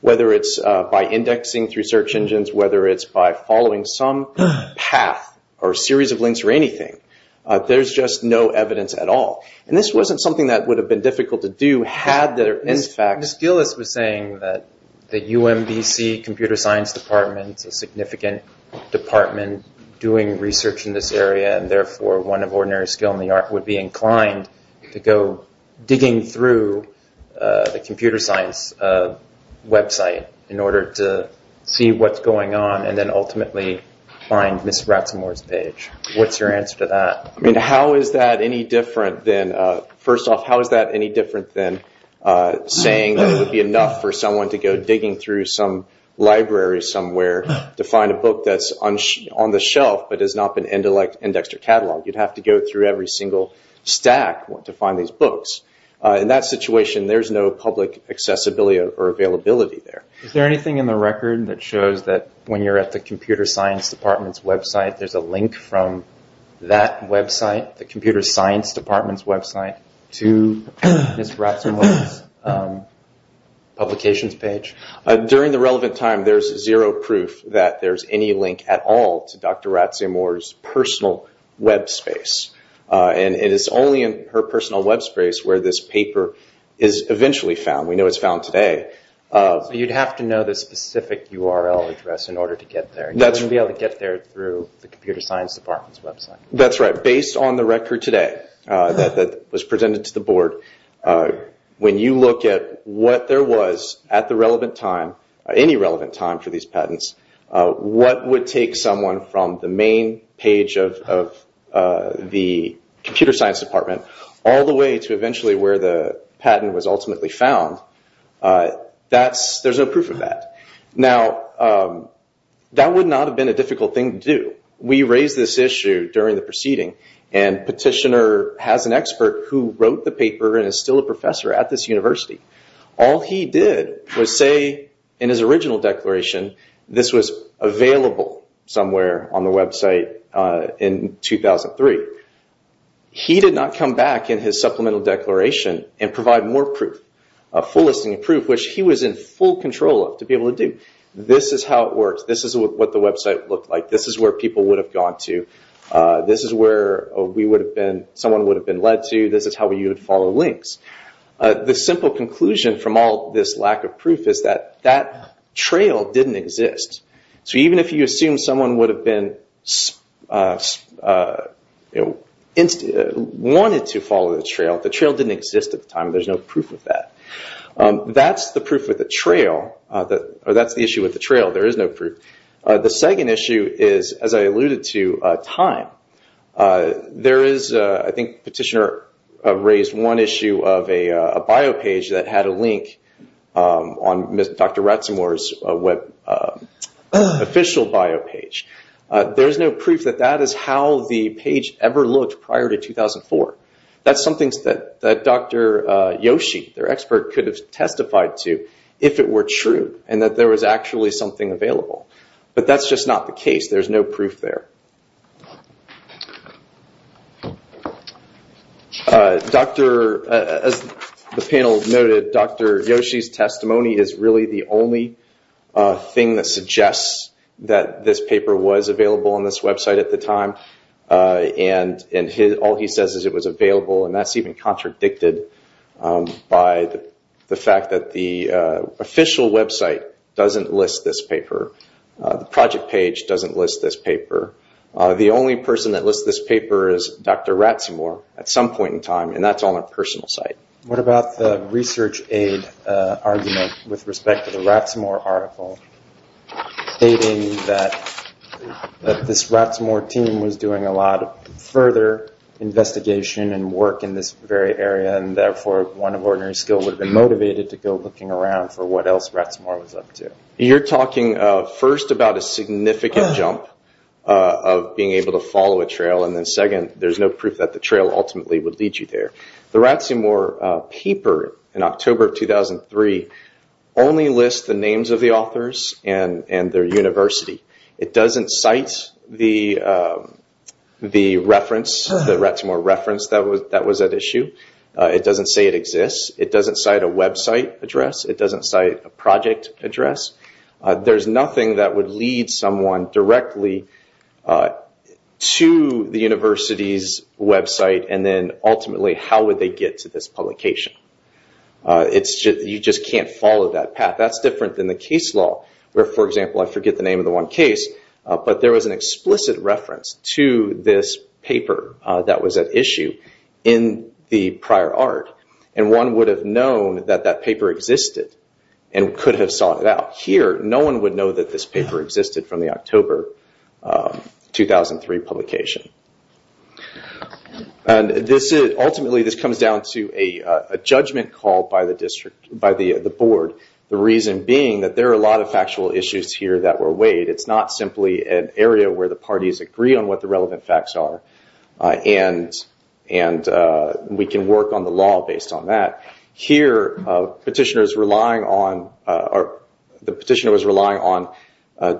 whether it's by indexing through search engines, whether it's by following some path or series of links or anything. There's just no evidence at all. And this wasn't something that would have been difficult to do had there, in fact... Ms. Steelitz was saying that the UMBC Computer Science Department, a significant department doing research in this area, and therefore one of ordinary skill in the art, would be inclined to go digging through the computer science website in order to see what's going on and then ultimately find Ms. Ratsimore's page. What's your answer to that? I mean, how is that any different than... First off, how is that any different than saying that it would be enough for someone to be able to go digging through some library somewhere to find a book that's on the shelf but has not been indexed or cataloged? You'd have to go through every single stack to find these books. In that situation, there's no public accessibility or availability there. Is there anything in the record that shows that when you're at the Computer Science Department's website, there's a link from that website, the Computer Science Department's website, to Ms. Ratsimore's publication page? During the relevant time, there's zero proof that there's any link at all to Dr. Ratsimore's personal web space. And it's only in her personal web space where this paper is eventually found. We know it's found today. You'd have to know the specific URL address in order to get there. You wouldn't be able to get there through the Computer Science Department's website. That's right. But based on the record today that was presented to the Board, when you look at what there was at the relevant time, any relevant time for these patents, what would take someone from the main page of the Computer Science Department all the way to eventually where the patent was ultimately found, Now, that would not have been a difficult thing to do. We raised this issue during the proceeding, and Petitioner has an expert who wrote the paper and is still a professor at this university. All he did was say in his original declaration this was available somewhere on the website in 2003. He did not come back in his supplemental declaration and provide more proof, a full listing of proof, which he was in full control of to be able to do. This is how it works. This is what the website looked like. This is where people would have gone to. This is where someone would have been led to. This is how we would have followed links. The simple conclusion from all this lack of proof is that that trail didn't exist. So even if you assume someone would have been wanted to follow the trail, the trail didn't exist at the time. There's no proof of that. That's the issue with the trail. There is no proof. The second issue is, as I alluded to, time. I think Petitioner raised one issue of a bio page that had a link on Dr. Ratzemore's official bio page. There's no proof that that is how the page ever looked prior to 2004. That's something that Dr. Yoshi, their expert, could have testified to if it were true and that there was actually something available. But that's just not the case. There's no proof there. As the panel noted, Dr. Yoshi's testimony is really the only thing that suggests that this paper was available on this website at the time. All he says is it was available, and that's even contradicted by the fact that the official website doesn't list this paper. The project page doesn't list this paper. The only person that lists this paper is Dr. Ratzemore at some point in time, and that's on a personal site. What about the research aid argument with respect to the Ratzemore article stating that this Ratzemore team was doing a lot of further investigation and work in this very area, and therefore one of ordinary skill would have been motivated to go looking around for what else Ratzemore was up to? You're talking first about a significant jump of being able to follow a trail, and then second, there's no proof that the trail ultimately would lead you there. The Ratzemore paper in October of 2003 only lists the names of the authors and their university. It doesn't cite the reference, the Ratzemore reference that was at issue. It doesn't say it exists. It doesn't cite a website address. It doesn't cite a project address. There's nothing that would lead someone directly to the university's website, and then ultimately, how would they get to this publication? You just can't follow that path. That's different than the case law, where, for example, I forget the name of the one case, but there was an explicit reference to this paper that was at issue in the prior art, and one would have known that that paper existed and could have sought it out. Here, no one would know that this paper existed from the October 2003 publication. Ultimately, this comes down to a judgment call by the board, the reason being that there are a lot of factual issues here that were weighed. It's not simply an area where the parties agree on what the relevant facts are, and we can work on the law based on that. Here, the petitioner was relying on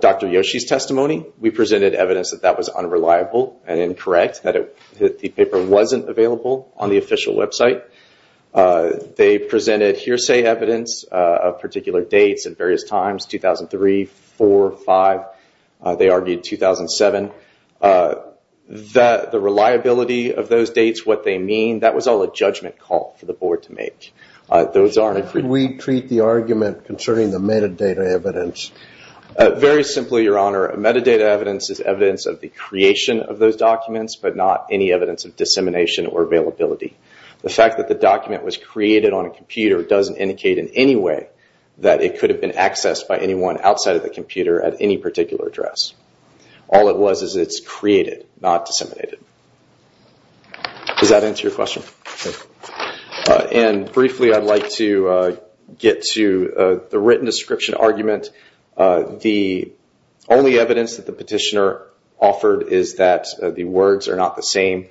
Dr. Yoshi's testimony. We presented evidence that that was unreliable and incorrect, that the paper wasn't available on the official website. They presented hearsay evidence of particular dates at various times, 2003, 4, 5. They argued 2007. The reliability of those dates, what they mean, that was all a judgment call for the board to make. Those aren't... Could we repeat the argument concerning the metadata evidence? Very simply, Your Honor, metadata evidence is evidence of the creation of those documents, but not any evidence of dissemination or availability. The fact that the document was created on a computer doesn't indicate in any way that it could have been accessed by anyone outside of the computer at any particular address. All it was is it's created, not disseminated. Does that answer your question? Okay. And briefly, I'd like to get to the written description argument. The only evidence that the petitioner offered is that the words are not the same.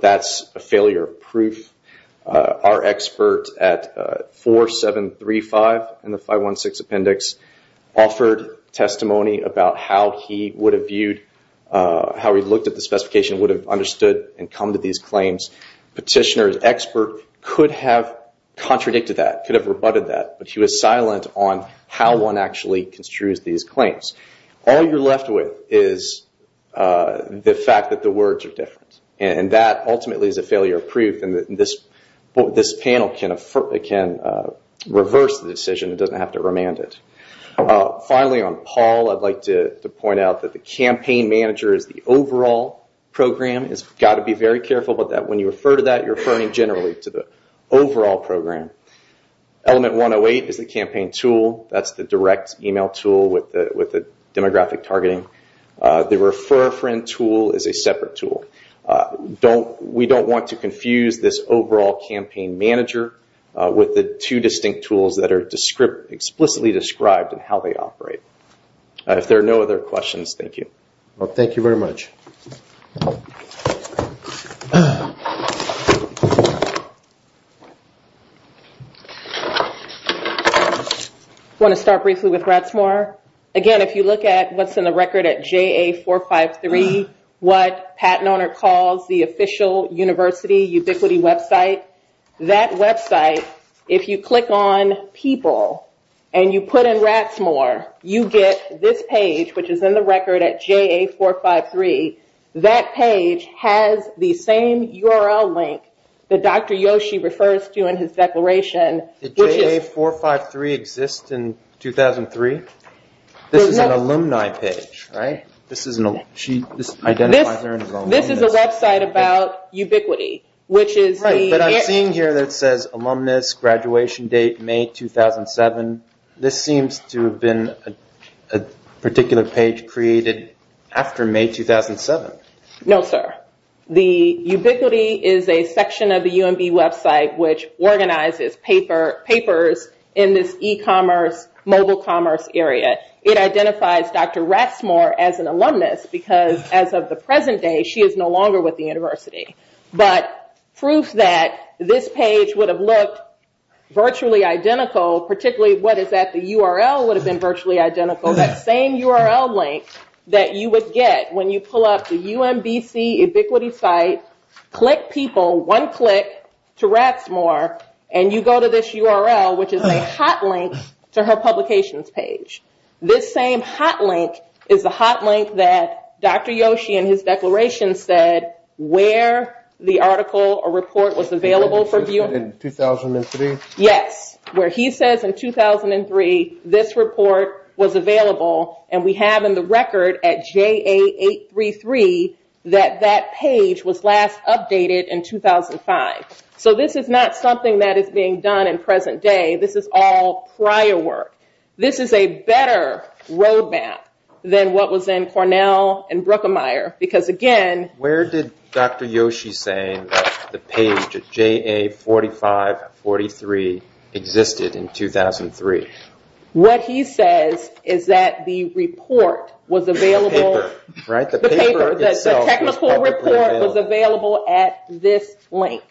That's a failure of proof. Our expert at 4735 in the 516 Appendix offered testimony about how he would have viewed, how he looked at the specification, would have understood and come to these claims. Petitioner's expert could have contradicted that, could have rebutted that, but she was silent on how one actually construes these claims. All you're left with is the fact that the words are different, and that ultimately is a failure of proof, and this panel can reverse the decision, doesn't have to remand it. Finally, on Paul, I'd like to point out that the campaign manager is the overall program. You've got to be very careful about that. When you refer to that, you're referring generally to the overall program. Element 108 is the campaign tool. That's the direct email tool with the demographic targeting. The refer friend tool is a separate tool. We don't want to confuse this overall campaign manager with the two distinct tools that are explicitly described in how they operate. If there are no other questions, thank you. Thank you very much. I want to start briefly with Ratsamore. Again, if you look at what's in the record at JA453, what Pat Nonner calls the official university ubiquity website, that website, if you click on people and you put in Ratsmore, you get this page, which is in the record at JA453. That page has the same URL link that Dr. Yoshi refers to in his declaration. Did JA453 exist in 2003? This is an alumni page, right? This identifies her as an alumni. This is a website about ubiquity, which is the- Right, but I'm seeing here that says alumnus graduation date May 2007. This seems to have been a particular page created after May 2007. No, sir. The ubiquity is a section of the UMB website which organizes papers in this e-commerce, mobile commerce area. It identifies Dr. Ratsmore as an alumnus because as of the present day, she is no longer with the university. But proof that this page would have looked virtually identical, particularly what is that the URL would have been virtually identical, that same URL link that you would get when you pull up the UMBC ubiquity site, click people, one click to Ratsmore, and you go to this URL, which is a hot link to her publications page. This same hot link is the hot link that Dr. Yoshi in his declaration said where the article or report was available for viewing. In 2003? Yes, where he says in 2003, this report was available and we have in the record at JA833 that that page was last updated in 2005. So this is not something that is being done in present day. This is all prior work. This is a better roadmap than what was in Cornell and Bruckenmeier because again... Where did Dr. Yoshi say that the page of JA4543 existed in 2003? What he says is that the report was available... The paper, right? The paper. The technical report was available at this link.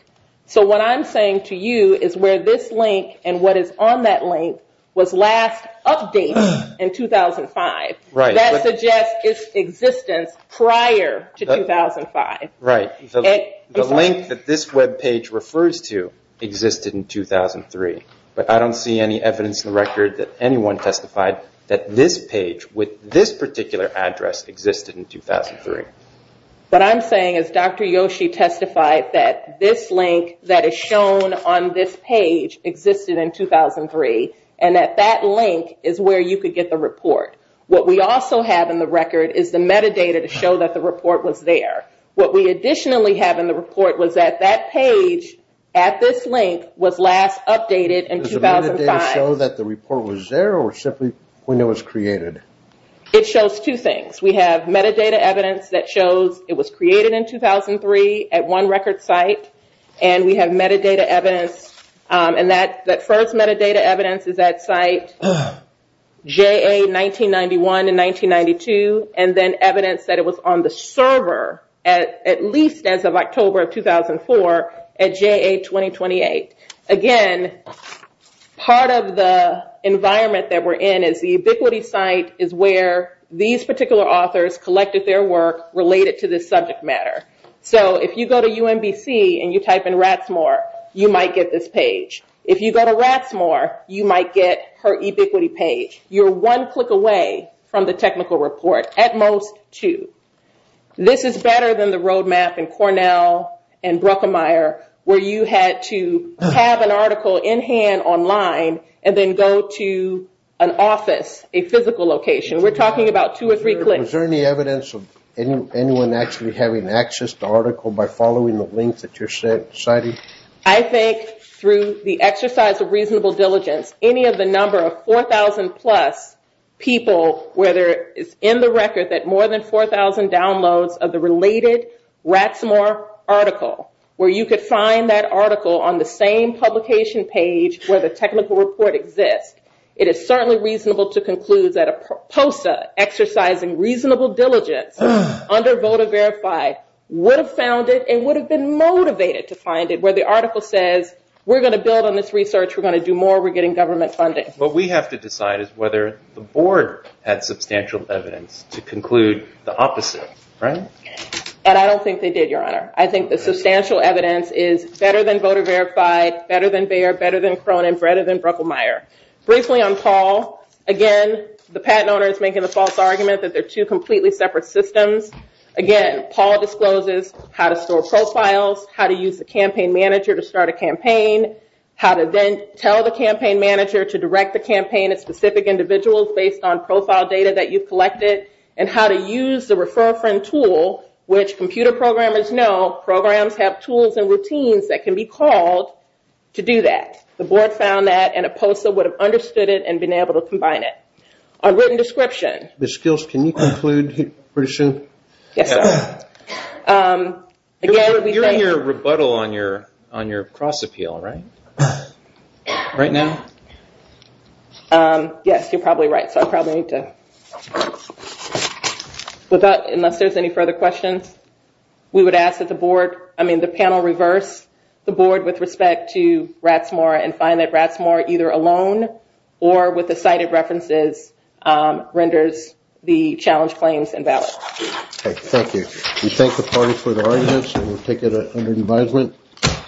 So what I'm saying to you is where this link and what is on that link was last updated in 2005. That suggests its existence prior to 2005. Right. The link that this webpage refers to existed in 2003. But I don't see any evidence in the record that anyone testified that this page with this particular address existed in 2003. What I'm saying is Dr. Yoshi testified that this link that is shown on this page existed in 2003 and that that link is where you could get the report. What we also have in the record is the metadata to show that the report was there. What we additionally have in the report was that that page at this link was last updated in 2005. Does the metadata show that the report was there or simply when it was created? It shows two things. We have metadata evidence that shows it was created in 2003 at one record site and we have metadata evidence and that first metadata evidence is at site JA-1991 and 1992 and then evidence that it was on the server at least as of October of 2004 at JA-2028. Again, part of the environment that we're in is the ubiquity site is where these particular authors collected their work related to this subject matter. If you go to UMBC and you type in Rathmore, you might get this page. If you go to Rathmore, you might get her ubiquity page. You're one click away from the technical report, at most two. This is better than the roadmap in Cornell and Bruckenmeier where you had to have an article in hand online and then go to an office, a physical location. We're talking about two or three clicks. Is there any evidence of anyone actually having access to the article by following the link that you're citing? I think through the exercise of reasonable diligence, any of the number of 4,000-plus people where it's in the record that more than 4,000 downloads of the related Rathmore article where you could find that article on the same publication page where the technical report exists, it is certainly reasonable to conclude that a POSA exercising reasonable diligence under Voter Verified would have found it and would have been motivated to find it where the article says, we're going to build on this research, we're going to do more, we're getting government funding. What we have to decide is whether the board had substantial evidence to conclude the opposite, right? And I don't think they did, Your Honor. I think the substantial evidence is better than Voter Verified, better than Bayer, better than Cronin, better than Bruckenmeier. Briefly on Paul, again, the patent owner is making the false argument that they're two completely separate systems. Again, Paul discloses how to store profiles, how to use the campaign manager to start a campaign, how to then tell the campaign manager to direct the campaign at specific individuals based on profile data that you've collected, and how to use the Refer Friend Tool, which computer programmers know programs have tools and routines that can be called to do that. The board found that and a POSA would have understood it and been able to combine it. A written description. Ms. Stills, can you conclude pretty soon? Yes, Your Honor. You're in your rebuttal on your cross-appeal, right? Right now? Yes, you're probably right, so I probably need to... With that, unless there's any further questions, we would ask that the panel reverse the board with respect to Rathmore and find that Rathmore either alone or with the cited references renders the challenge claims invalid. Okay, thank you. We thank the parties for their audience and we'll take it under revival.